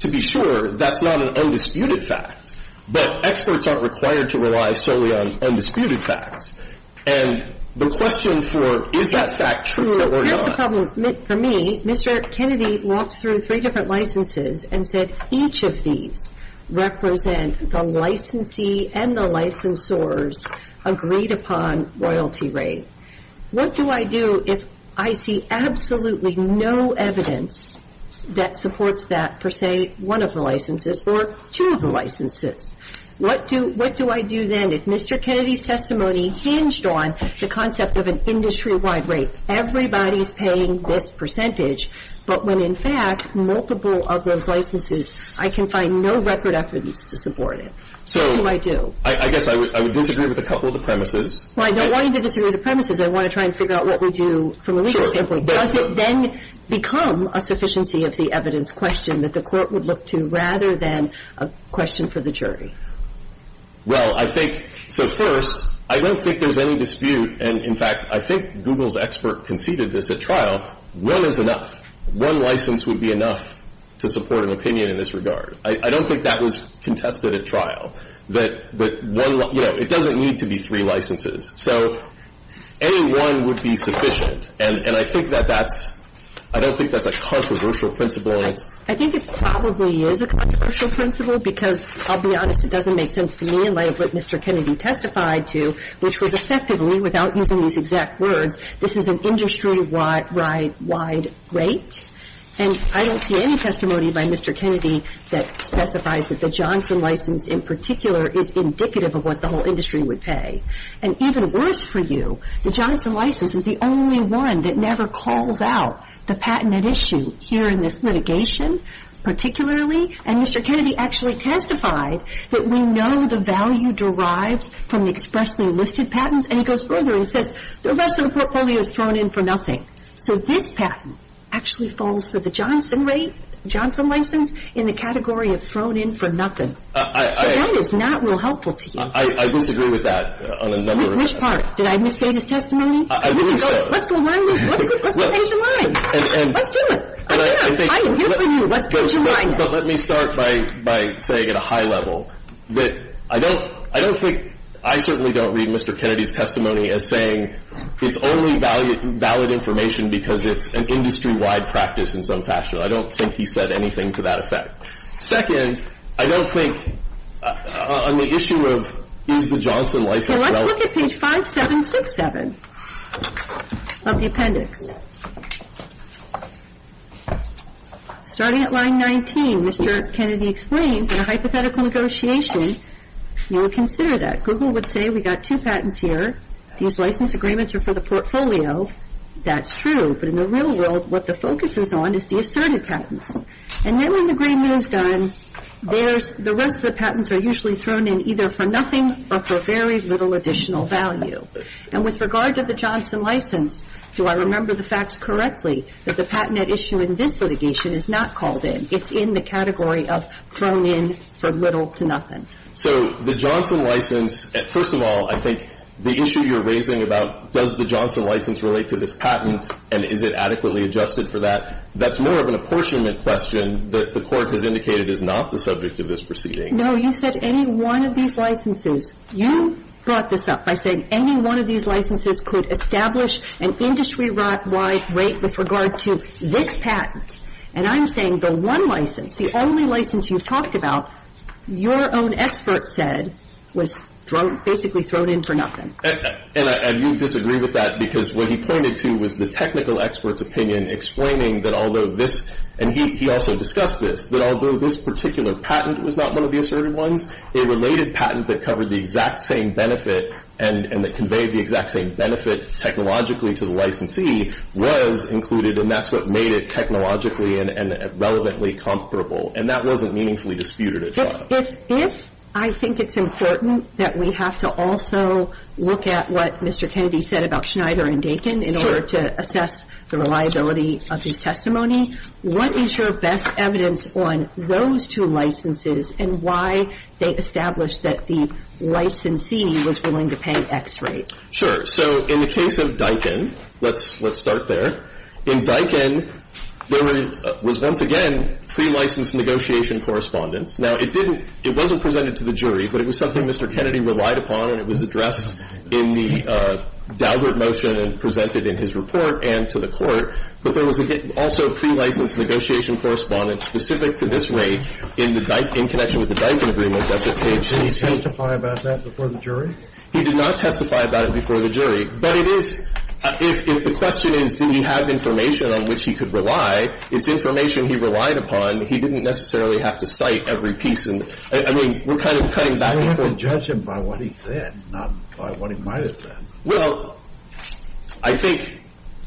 to be sure, that's not an undisputed fact. But experts aren't required to rely solely on undisputed facts. And the question for is that fact true or not. The problem for me, Mr. Kennedy walked through three different licenses and said each of these represent the licensee and the licensors agreed upon royalty rate. What do I do if I see absolutely no evidence that supports that for, say, one of the licenses or two of the licenses? What do I do then if Mr. Kennedy's testimony hinged on the concept of an industry-wide rate, everybody's paying this percentage, but when, in fact, multiple of those licenses, I can find no record evidence to support it? What do I do? So I guess I would disagree with a couple of the premises. Well, I don't want you to disagree with the premises. I want to try and figure out what we do from a legal standpoint. Sure. Does it then become a sufficiency of the evidence question that the Court would look to rather than a question for the jury? Well, I think, so first, I don't think there's any dispute. And, in fact, I think Google's expert conceded this at trial. One is enough. One license would be enough to support an opinion in this regard. I don't think that was contested at trial, that one, you know, it doesn't need to be three licenses. So any one would be sufficient. And I think that that's – I don't think that's a controversial principle. I think it probably is a controversial principle because, I'll be honest, it doesn't make sense to me in light of what Mr. Kennedy testified to, which was effectively, without using these exact words, this is an industry-wide rate. And I don't see any testimony by Mr. Kennedy that specifies that the Johnson license in particular is indicative of what the whole industry would pay. And even worse for you, the Johnson license is the only one that never calls out the patented issue here in this litigation particularly. And Mr. Kennedy actually testified that we know the value derives from expressly listed patents. And he goes further and says the rest of the portfolio is thrown in for nothing. So this patent actually falls for the Johnson rate, Johnson license, in the category of thrown in for nothing. So that is not real helpful to you. I disagree with that on a number of – Which part? Did I misstate his testimony? I think so. Let's go one move. Let's finish the line. Let's do it. I'm here for you. Let's finish the line. But let me start by saying at a high level that I don't think – I certainly don't read Mr. Kennedy's testimony as saying it's only valid information because it's an industry-wide practice in some fashion. I don't think he said anything to that effect. Second, I don't think on the issue of is the Johnson license relevant – So let's look at page 5767 of the appendix. Starting at line 19, Mr. Kennedy explains, in a hypothetical negotiation, you would consider that. Google would say we've got two patents here. These license agreements are for the portfolio. That's true. But in the real world, what the focus is on is the asserted patents. And then when the gray moon is done, the rest of the patents are usually thrown in either for nothing or for very little additional value. And with regard to the Johnson license, do I remember the facts correctly, that the patent at issue in this litigation is not called in. It's in the category of thrown in for little to nothing. So the Johnson license – first of all, I think the issue you're raising about does the Johnson license relate to this patent and is it adequately adjusted for that, that's more of an apportionment question that the Court has indicated is not the subject of this proceeding. No. You said any one of these licenses. You brought this up by saying any one of these licenses could establish an industry-wide rate with regard to this patent. And I'm saying the one license, the only license you've talked about, your own expert said was thrown – basically thrown in for nothing. And you disagree with that because what he pointed to was the technical expert's opinion explaining that although this – and he also discussed this – that although this particular patent was not one of the asserted ones, a related patent that covered the exact same benefit and that conveyed the exact same benefit technologically to the licensee was included and that's what made it technologically and relevantly comparable. And that wasn't meaningfully disputed at trial. If I think it's important that we have to also look at what Mr. Kennedy said about Schneider and Dakin in order to assess the reliability of his testimony, what is your best evidence on those two licenses and why they established that the licensee was willing to pay X rate? So in the case of Dakin – let's start there. In Dakin, there was once again pre-licensed negotiation correspondence. Now, it didn't – it wasn't presented to the jury, but it was something Mr. Kennedy relied upon and it was addressed in the Daubert motion and presented in his report and to the court. But there was also pre-licensed negotiation correspondence specific to this rate in connection with the Dakin agreement. Did he testify about that before the jury? He did not testify about it before the jury. But it is – if the question is did he have information on which he could rely, it's information he relied upon. He didn't necessarily have to cite every piece. I mean, we're kind of cutting back before the jury. You don't have to judge him by what he said, not by what he might have said. Well, I think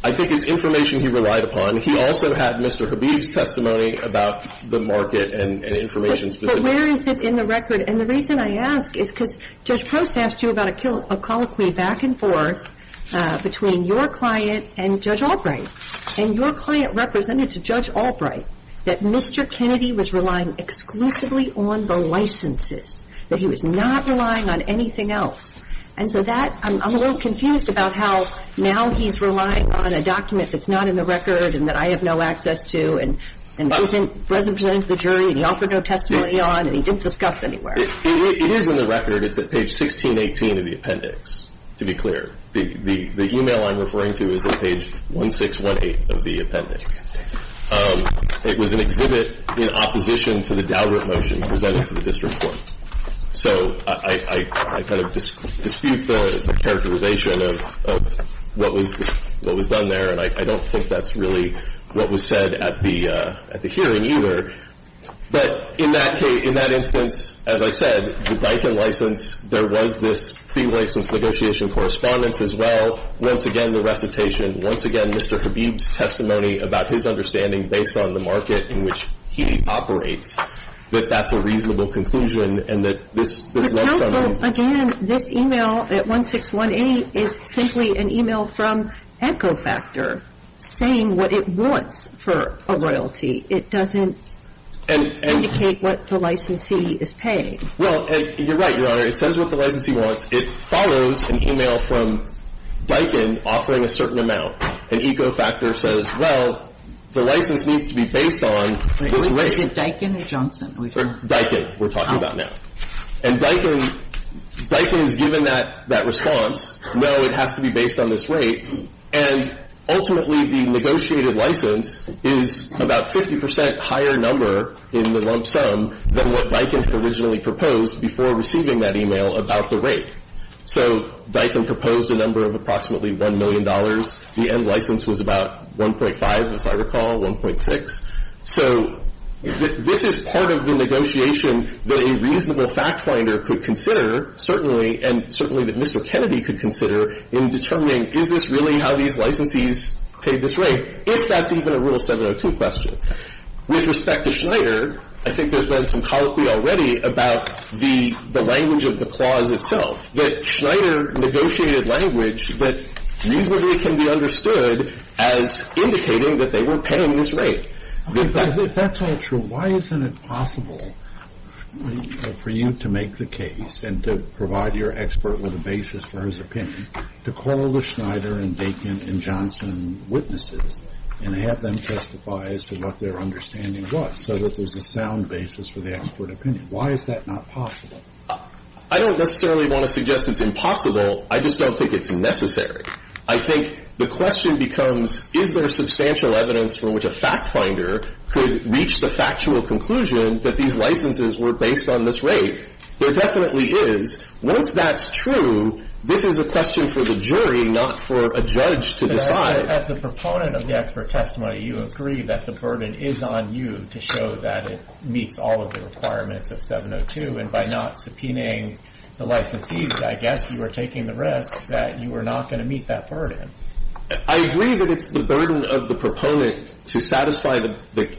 it's information he relied upon. He also had Mr. Habeeb's testimony about the market and information specific. But where is it in the record? And the reason I ask is because Judge Prost asked you about a colloquy back and forth between your client and Judge Albright. And your client represented to Judge Albright that Mr. Kennedy was relying exclusively on the licenses, that he was not relying on anything else. And so that – I'm a little confused about how now he's relying on a document that's not in the record and that I have no access to, and isn't presently presented to the jury, and he offered no testimony on, and he didn't discuss anywhere. It is in the record. It's at page 1618 of the appendix, to be clear. The email I'm referring to is at page 1618 of the appendix. It was an exhibit in opposition to the Daubert motion presented to the district court. So I kind of dispute the characterization of what was done there, and I don't think that's really what was said at the hearing either. But in that instance, as I said, the Diken license, there was this pre-license negotiation correspondence as well. Once again, the recitation. Once again, Mr. Habib's testimony about his understanding, based on the market in which he operates, that that's a reasonable conclusion The counsel, again, this email at 1618 is simply an email from Echofactor saying what it wants for a royalty. It doesn't indicate what the licensee is paying. Well, you're right, Your Honor. It says what the licensee wants. It follows an email from Diken offering a certain amount, and Echofactor says, well, the license needs to be based on this relationship. Is it Diken or Johnson? Diken we're talking about now. And Diken is given that response. No, it has to be based on this rate, and ultimately the negotiated license is about 50 percent higher number in the lump sum than what Diken had originally proposed before receiving that email about the rate. So Diken proposed a number of approximately $1 million. The end license was about 1.5, as I recall, 1.6. So this is part of the negotiation that a reasonable fact finder could consider, certainly, and certainly that Mr. Kennedy could consider in determining is this really how these licensees paid this rate, if that's even a Rule 702 question. With respect to Schneider, I think there's been some colloquy already about the language of the clause itself, that Schneider negotiated language that reasonably can be understood as indicating that they were paying this rate. If that's all true, why isn't it possible for you to make the case and to provide your expert with a basis for his opinion to call the Schneider and Diken and Johnson witnesses and have them testify as to what their understanding was so that there's a sound basis for the expert opinion? Why is that not possible? I don't necessarily want to suggest it's impossible. I just don't think it's necessary. I think the question becomes, is there substantial evidence from which a fact finder could reach the factual conclusion that these licenses were based on this rate? There definitely is. Once that's true, this is a question for the jury, not for a judge to decide. But as the proponent of the expert testimony, you agree that the burden is on you to show that it meets all of the requirements of 702, and by not subpoenaing the licensees, I guess you are taking the risk that you are not going to meet that burden. I agree that it's the burden of the proponent to satisfy the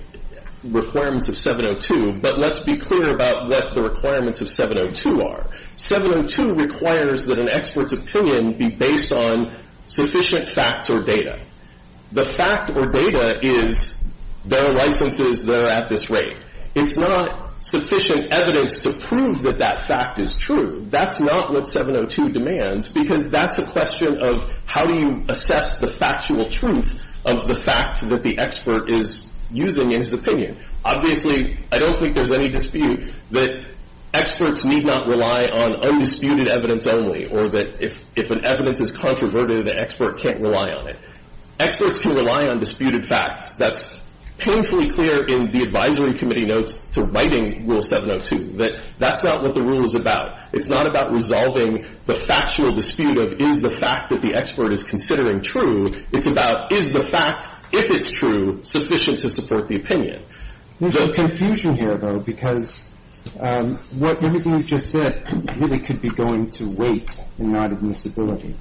requirements of 702, but let's be clear about what the requirements of 702 are. 702 requires that an expert's opinion be based on sufficient facts or data. The fact or data is there are licenses, they're at this rate. It's not sufficient evidence to prove that that fact is true. That's not what 702 demands because that's a question of how do you assess the factual truth of the fact that the expert is using in his opinion. Obviously, I don't think there's any dispute that experts need not rely on undisputed evidence only or that if an evidence is controverted, the expert can't rely on it. Experts can rely on disputed facts. That's painfully clear in the advisory committee notes to writing Rule 702, that that's not what the rule is about. It's not about resolving the factual dispute of is the fact that the expert is considering true. It's about is the fact, if it's true, sufficient to support the opinion. There's some confusion here, though, because everything you just said really could be going to weight in light of miscibility.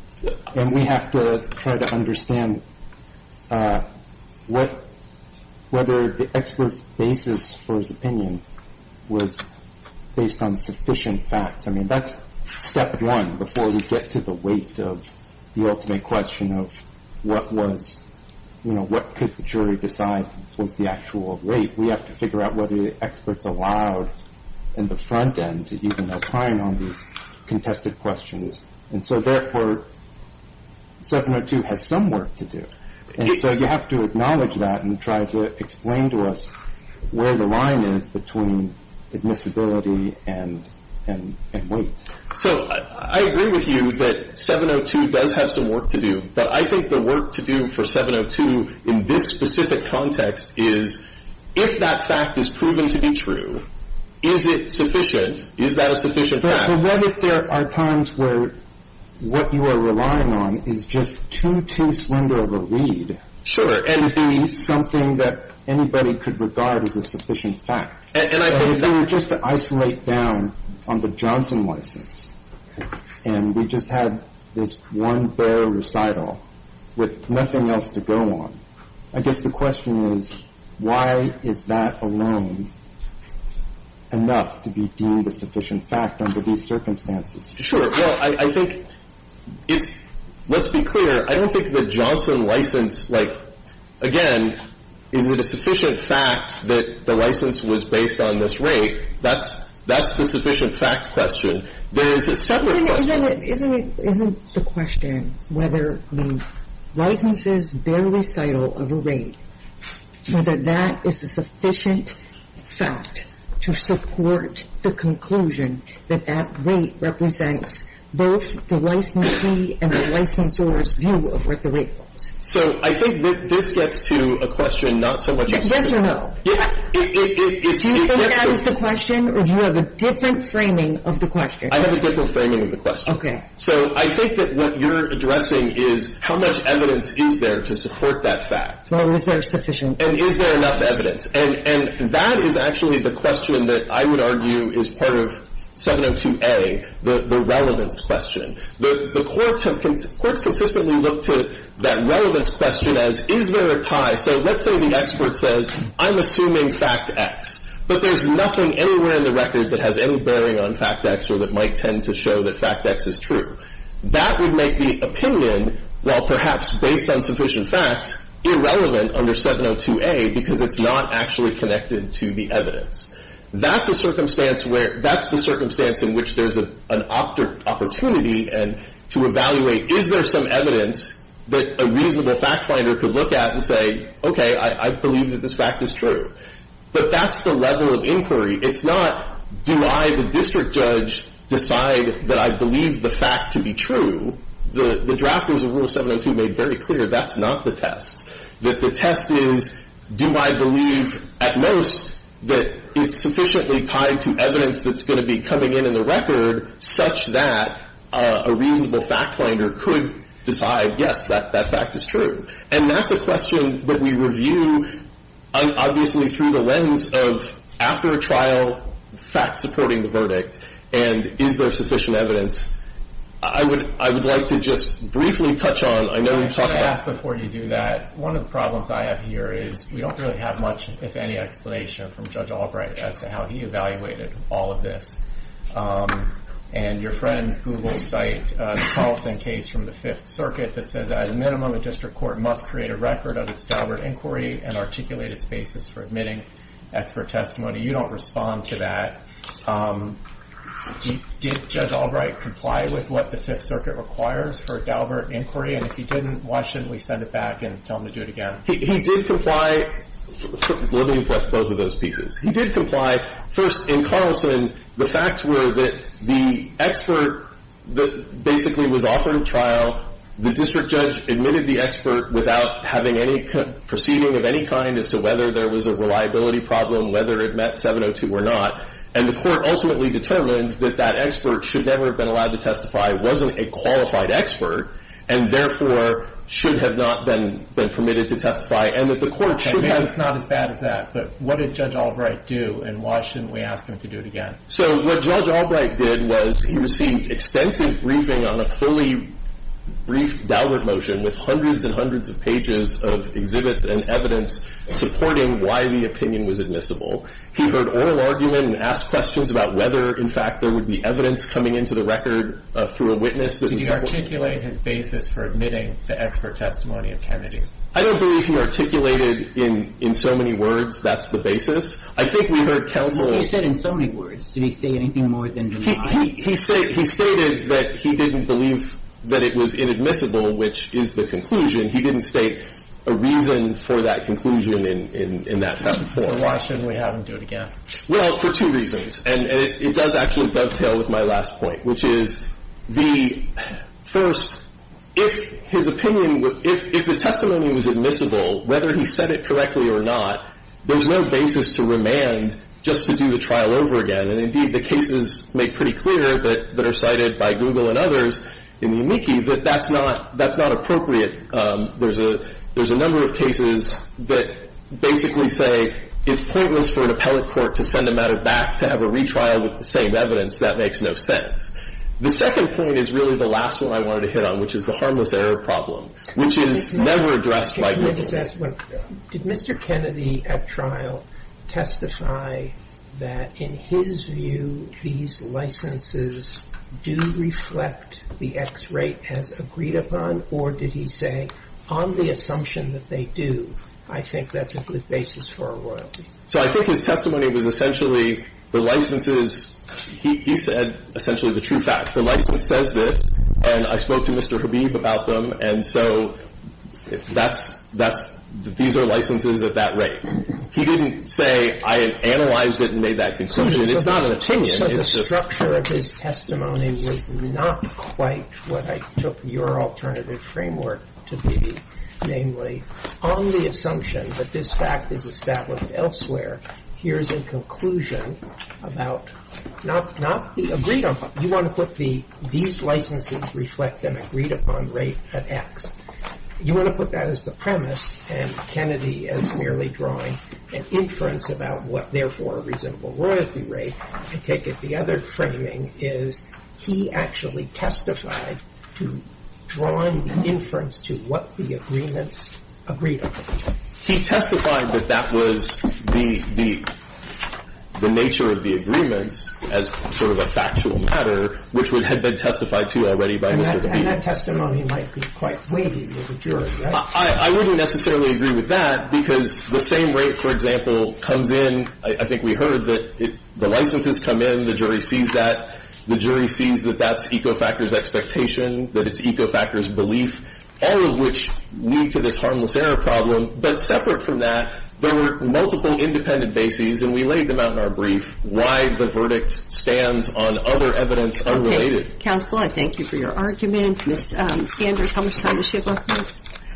And we have to try to understand whether the expert's basis for his opinion was based on sufficient facts. I mean, that's step one before we get to the weight of the ultimate question of what was, you know, what could the jury decide was the actual rate. We have to figure out whether the expert's allowed in the front end to even opine on these contested questions. And so, therefore, 702 has some work to do. And so you have to acknowledge that and try to explain to us where the line is between admissibility and weight. So I agree with you that 702 does have some work to do. But I think the work to do for 702 in this specific context is if that fact is proven to be true, is it sufficient? Is that a sufficient fact? But what if there are times where what you are relying on is just too, too slender of a read. Sure. To be something that anybody could regard as a sufficient fact. If they were just to isolate down on the Johnson license and we just had this one bare recital with nothing else to go on, I guess the question is why is that alone enough to be deemed a sufficient fact under these circumstances? Sure. Well, I think it's – let's be clear. I don't think the Johnson license, like, again, is it a sufficient fact that the license was based on this rate? That's the sufficient fact question. There is a separate question. Isn't the question whether the licenses bare recital of a rate, whether that is a sufficient fact to support the conclusion that that rate represents both the licensee and the licensor's view of what the rate was? So I think that this gets to a question not so much of a question. Yes or no? It's just a question. Do you think that is the question or do you have a different framing of the question? I have a different framing of the question. Okay. So I think that what you're addressing is how much evidence is there to support that fact? Well, is there sufficient evidence? And is there enough evidence? And that is actually the question that I would argue is part of 702A, the relevance question. The courts have – courts consistently look to that relevance question as is there a tie. So let's say the expert says I'm assuming fact X, but there's nothing anywhere in the record that has any bearing on fact X or that might tend to show that fact X is true. That would make the opinion, while perhaps based on sufficient facts, irrelevant under 702A because it's not actually connected to the evidence. That's a circumstance where – that's the circumstance in which there's an opportunity to evaluate is there some evidence that a reasonable fact finder could look at and say, okay, I believe that this fact is true. But that's the level of inquiry. It's not do I, the district judge, decide that I believe the fact to be true. The drafters of Rule 702 made very clear that's not the test. That the test is do I believe at most that it's sufficiently tied to evidence that's going to be coming in in the record such that a reasonable fact finder could decide, yes, that fact is true. And that's a question that we review obviously through the lens of after a trial, facts supporting the verdict, and is there sufficient evidence. I would like to just briefly touch on – I know we've talked about – I just want to ask before you do that, one of the problems I have here is we don't really have much, if any, explanation from Judge Albright as to how he evaluated all of this. And your friends Google cite the Carlson case from the Fifth Circuit that says, at a minimum, a district court must create a record of its Daubert inquiry and articulate its basis for admitting expert testimony. You don't respond to that. Did Judge Albright comply with what the Fifth Circuit requires for a Daubert inquiry? And if he didn't, why shouldn't we send it back and tell him to do it again? He did comply – let me rephrase both of those pieces. He did comply. First, in Carlson, the facts were that the expert basically was offered a trial. The district judge admitted the expert without having any proceeding of any kind as to whether there was a reliability problem, whether it met 702 or not. And the court ultimately determined that that expert should never have been allowed to testify, wasn't a qualified expert, and therefore should have not been permitted to testify, and that the court should have – But what did Judge Albright do, and why shouldn't we ask him to do it again? So what Judge Albright did was he received extensive briefing on a fully briefed Daubert motion with hundreds and hundreds of pages of exhibits and evidence supporting why the opinion was admissible. He heard oral argument and asked questions about whether, in fact, there would be evidence coming into the record through a witness. Did he articulate his basis for admitting the expert testimony of Kennedy? I don't believe he articulated in so many words that's the basis. I think we heard counsel – What did he say in so many words? Did he say anything more than deny? He stated that he didn't believe that it was inadmissible, which is the conclusion. He didn't state a reason for that conclusion in that type of form. So why shouldn't we have him do it again? Well, for two reasons, and it does actually dovetail with my last point, which is the First, if his opinion – if the testimony was admissible, whether he said it correctly or not, there's no basis to remand just to do the trial over again. And, indeed, the cases make pretty clear that are cited by Google and others in the amici that that's not – that's not appropriate. There's a number of cases that basically say it's pointless for an appellate court to send a matter back to have a retrial with the same evidence. That makes no sense. The second point is really the last one I wanted to hit on, which is the harmless error problem, which is never addressed by Google. Can I just ask one? Did Mr. Kennedy at trial testify that, in his view, these licenses do reflect the X rate as agreed upon, or did he say, on the assumption that they do, I think that's a good basis for a royalty? So I think his testimony was essentially the licenses – he said essentially the true facts. The license says this, and I spoke to Mr. Habib about them, and so that's – these are licenses at that rate. He didn't say, I analyzed it and made that conclusion. It's not an opinion. It's just – So the structure of his testimony was not quite what I took your alternative framework to be, namely, on the assumption that this fact is established elsewhere. Here's a conclusion about not the agreed upon – you want to put the – these licenses reflect an agreed upon rate at X. You want to put that as the premise and Kennedy as merely drawing an inference about what, therefore, a reasonable royalty rate. I take it the other framing is he actually testified to drawing the inference to what the agreements agreed upon. He testified that that was the nature of the agreements as sort of a factual matter, which would have been testified to already by Mr. Habib. And that testimony might be quite wavy to the jury, right? I wouldn't necessarily agree with that, because the same rate, for example, comes in – I think we heard that the licenses come in, the jury sees that, the jury sees that that's Ecofactor's expectation, that it's Ecofactor's belief. All of which lead to this harmless error problem. But separate from that, there were multiple independent bases, and we laid them out in our brief, why the verdict stands on other evidence unrelated. Okay. Counsel, I thank you for your argument. Ms. Andrews, how much time does she have left?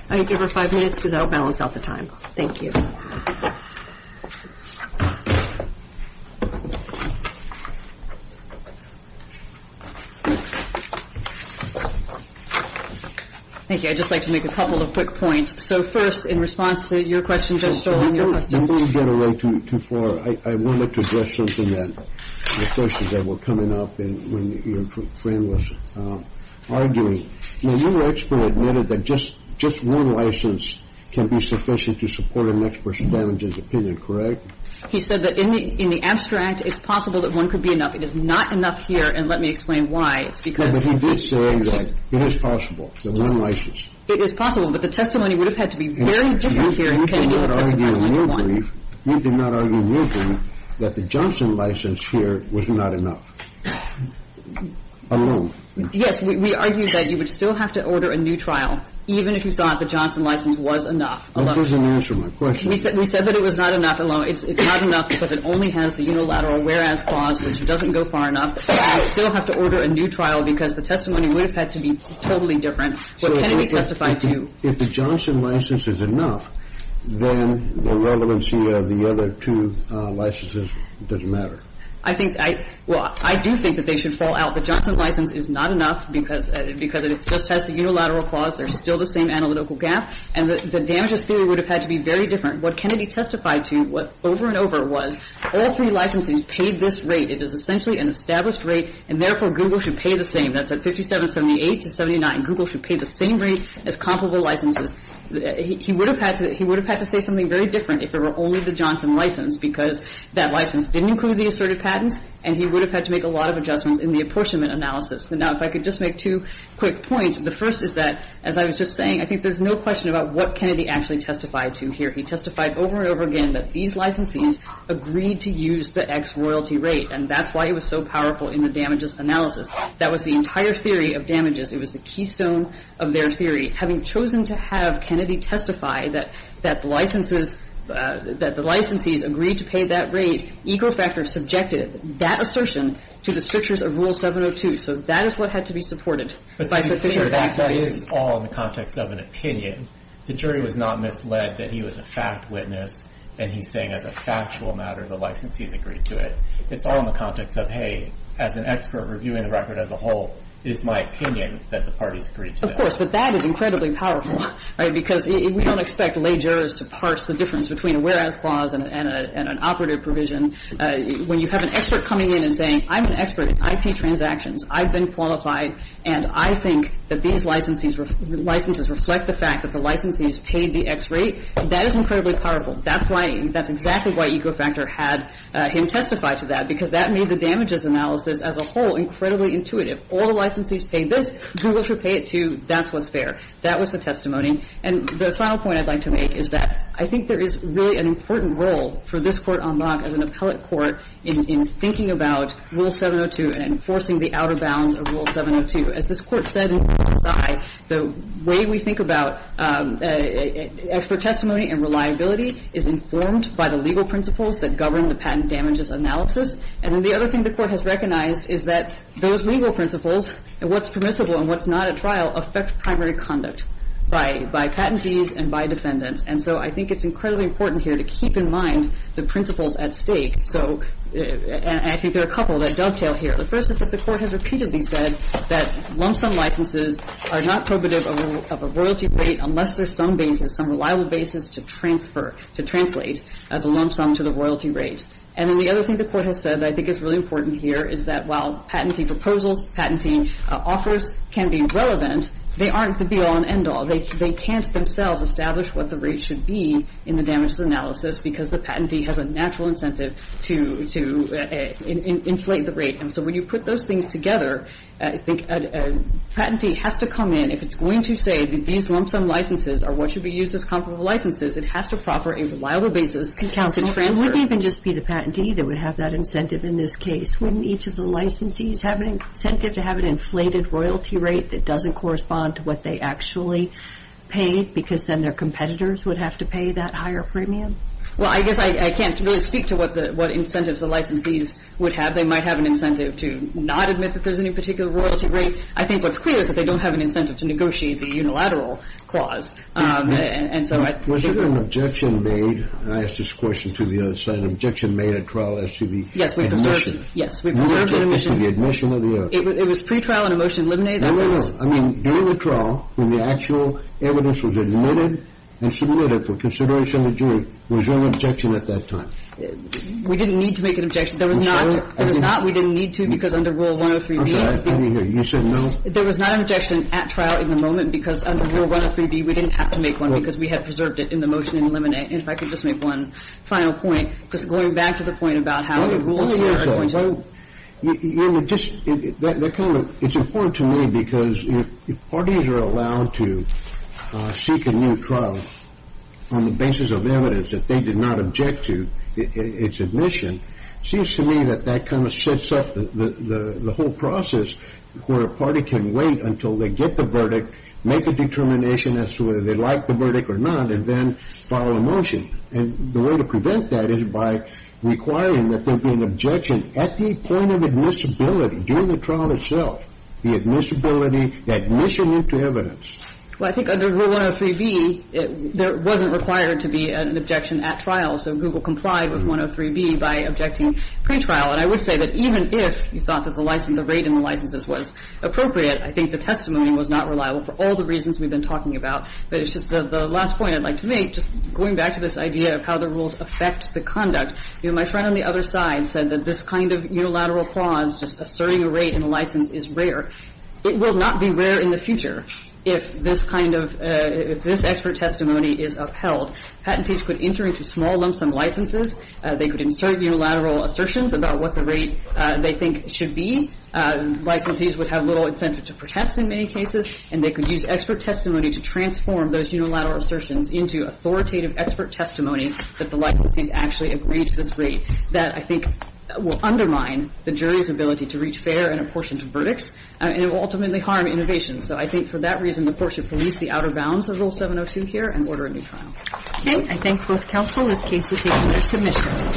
I give her five minutes, because I don't balance out the time. Thank you. Thank you. I'd just like to make a couple of quick points. So first, in response to your question, Judge Sterling, your question – Don't get away too far. I would like to address something that – the questions that were coming up when your friend was arguing. You said that in the abstract, it's possible that one could be enough. It is not enough here, and let me explain why. It's because – But he did say that it is possible, that one license. It is possible, but the testimony would have had to be very different here if Kennedy had testified only to one. You did not argue in your brief that the Johnson license here was not enough. Alone. Yes, we argued that you were right. We argued that you would still have to order a new trial even if you thought the Johnson license was enough. That doesn't answer my question. We said that it was not enough alone. It's not enough because it only has the unilateral whereas clause, which doesn't go far enough. You would still have to order a new trial because the testimony would have had to be totally different. What Kennedy testified to – If the Johnson license is enough, then the relevancy of the other two licenses doesn't matter. I think – well, I do think that they should fall out. The Johnson license is not enough because it just has the unilateral clause. There's still the same analytical gap, and the damages theory would have had to be very different. What Kennedy testified to over and over was all three licenses paid this rate. It is essentially an established rate, and therefore, Google should pay the same. That's at 5778 to 7979. Google should pay the same rate as comparable licenses. He would have had to say something very different if it were only the Johnson license because that license didn't include the asserted patents, and he would have had to make a lot of adjustments in the apportionment analysis. Now, if I could just make two quick points, the first is that, as I was just saying, I think there's no question about what Kennedy actually testified to here. He testified over and over again that these licensees agreed to use the X royalty rate, and that's why it was so powerful in the damages analysis. That was the entire theory of damages. It was the keystone of their theory. Having chosen to have Kennedy testify that the licensees agreed to pay that rate, the jury, equal factor, subjected that assertion to the strictures of Rule 702. So that is what had to be supported by sufficient background. But that is all in the context of an opinion. The jury was not misled that he was a fact witness and he's saying as a factual matter the licensees agreed to it. It's all in the context of, hey, as an expert reviewing the record as a whole, it is my opinion that the parties agreed to that. Of course, but that is incredibly powerful, right, because we don't expect lay jurors to parse the difference between a whereas clause and an operative provision when you have an expert coming in and saying, I'm an expert in IP transactions, I've been qualified, and I think that these licenses reflect the fact that the licensees paid the X rate. That is incredibly powerful. That's exactly why equal factor had him testify to that, because that made the damages analysis as a whole incredibly intuitive. All the licensees paid this. Google should pay it, too. That's what's fair. That was the testimony. And the final point I'd like to make is that I think there is really an important role for this Court on Lock as an appellate court in thinking about Rule 702 and enforcing the outer bounds of Rule 702. As this Court said in Clause I, the way we think about expert testimony and reliability is informed by the legal principles that govern the patent damages analysis. And then the other thing the Court has recognized is that those legal principles and what's permissible and what's not at trial affect primary conduct by patentees and by defendants. And so I think it's incredibly important here to keep in mind the principles at stake. And I think there are a couple that dovetail here. The first is that the Court has repeatedly said that lump sum licenses are not probative of a royalty rate unless there's some basis, some reliable basis to transfer, to translate the lump sum to the royalty rate. And then the other thing the Court has said that I think is really important here is that while patentee proposals, patentee offers can be relevant, they aren't the be-all and end-all. They can't themselves establish what the rate should be in the damages analysis because the patentee has a natural incentive to inflate the rate. And so when you put those things together, I think a patentee has to come in. If it's going to say that these lump sum licenses are what should be used as comparable licenses, it has to proffer a reliable basis to transfer. Counsel, it wouldn't even just be the patentee that would have that incentive in this case. Wouldn't each of the licensees have an incentive to have an inflated royalty rate that doesn't correspond to what they actually paid because then their competitors would have to pay that higher premium? Well, I guess I can't really speak to what incentives the licensees would have. They might have an incentive to not admit that there's any particular royalty rate. I think what's clear is that they don't have an incentive to negotiate the unilateral clause. Was there an objection made? I asked this question to the other side. There was an objection made at trial as to the admission. Yes, we preserved it. Yes, we preserved it. It was pre-trial and a motion eliminated. No, no, no. I mean, during the trial when the actual evidence was admitted and submitted for consideration in the jury, was there an objection at that time? We didn't need to make an objection. There was not. There was not. We didn't need to because under Rule 103B. Okay. You said no? There was not an objection at trial in the moment because under Rule 103B, we didn't have to make one because we had preserved it in the motion and eliminated it. If I could just make one final point, just going back to the point about how the rules were going to be. It's important to me because if parties are allowed to seek a new trial on the basis of evidence that they did not object to its admission, it seems to me that that kind of sets up the whole process where a party can wait until they get the verdict, make a determination as to whether they like the verdict or not, and then file a motion. And the way to prevent that is by requiring that there be an objection at the point of admissibility during the trial itself. The admissibility, the admission to evidence. Well, I think under Rule 103B, there wasn't required to be an objection at trial. So Google complied with 103B by objecting pretrial. And I would say that even if you thought that the rate in the licenses was appropriate, I think the testimony was not reliable for all the reasons we've been talking about. But it's just the last point I'd like to make, just going back to this idea of how the rules affect the conduct. You know, my friend on the other side said that this kind of unilateral clause, just asserting a rate in a license, is rare. It will not be rare in the future if this kind of, if this expert testimony is upheld. Patentees could enter into small lumpsum licenses. They could insert unilateral assertions about what the rate they think should be. Licensees would have little incentive to protest in many cases. And they could use expert testimony to transform those unilateral assertions into authoritative expert testimony that the licensees actually agreed to this rate. That, I think, will undermine the jury's ability to reach fair and apportioned verdicts. And it will ultimately harm innovation. So I think for that reason, the court should police the outer bounds of Rule 702 here and order a new trial. Okay. I thank both counsel. This case is taken under submission.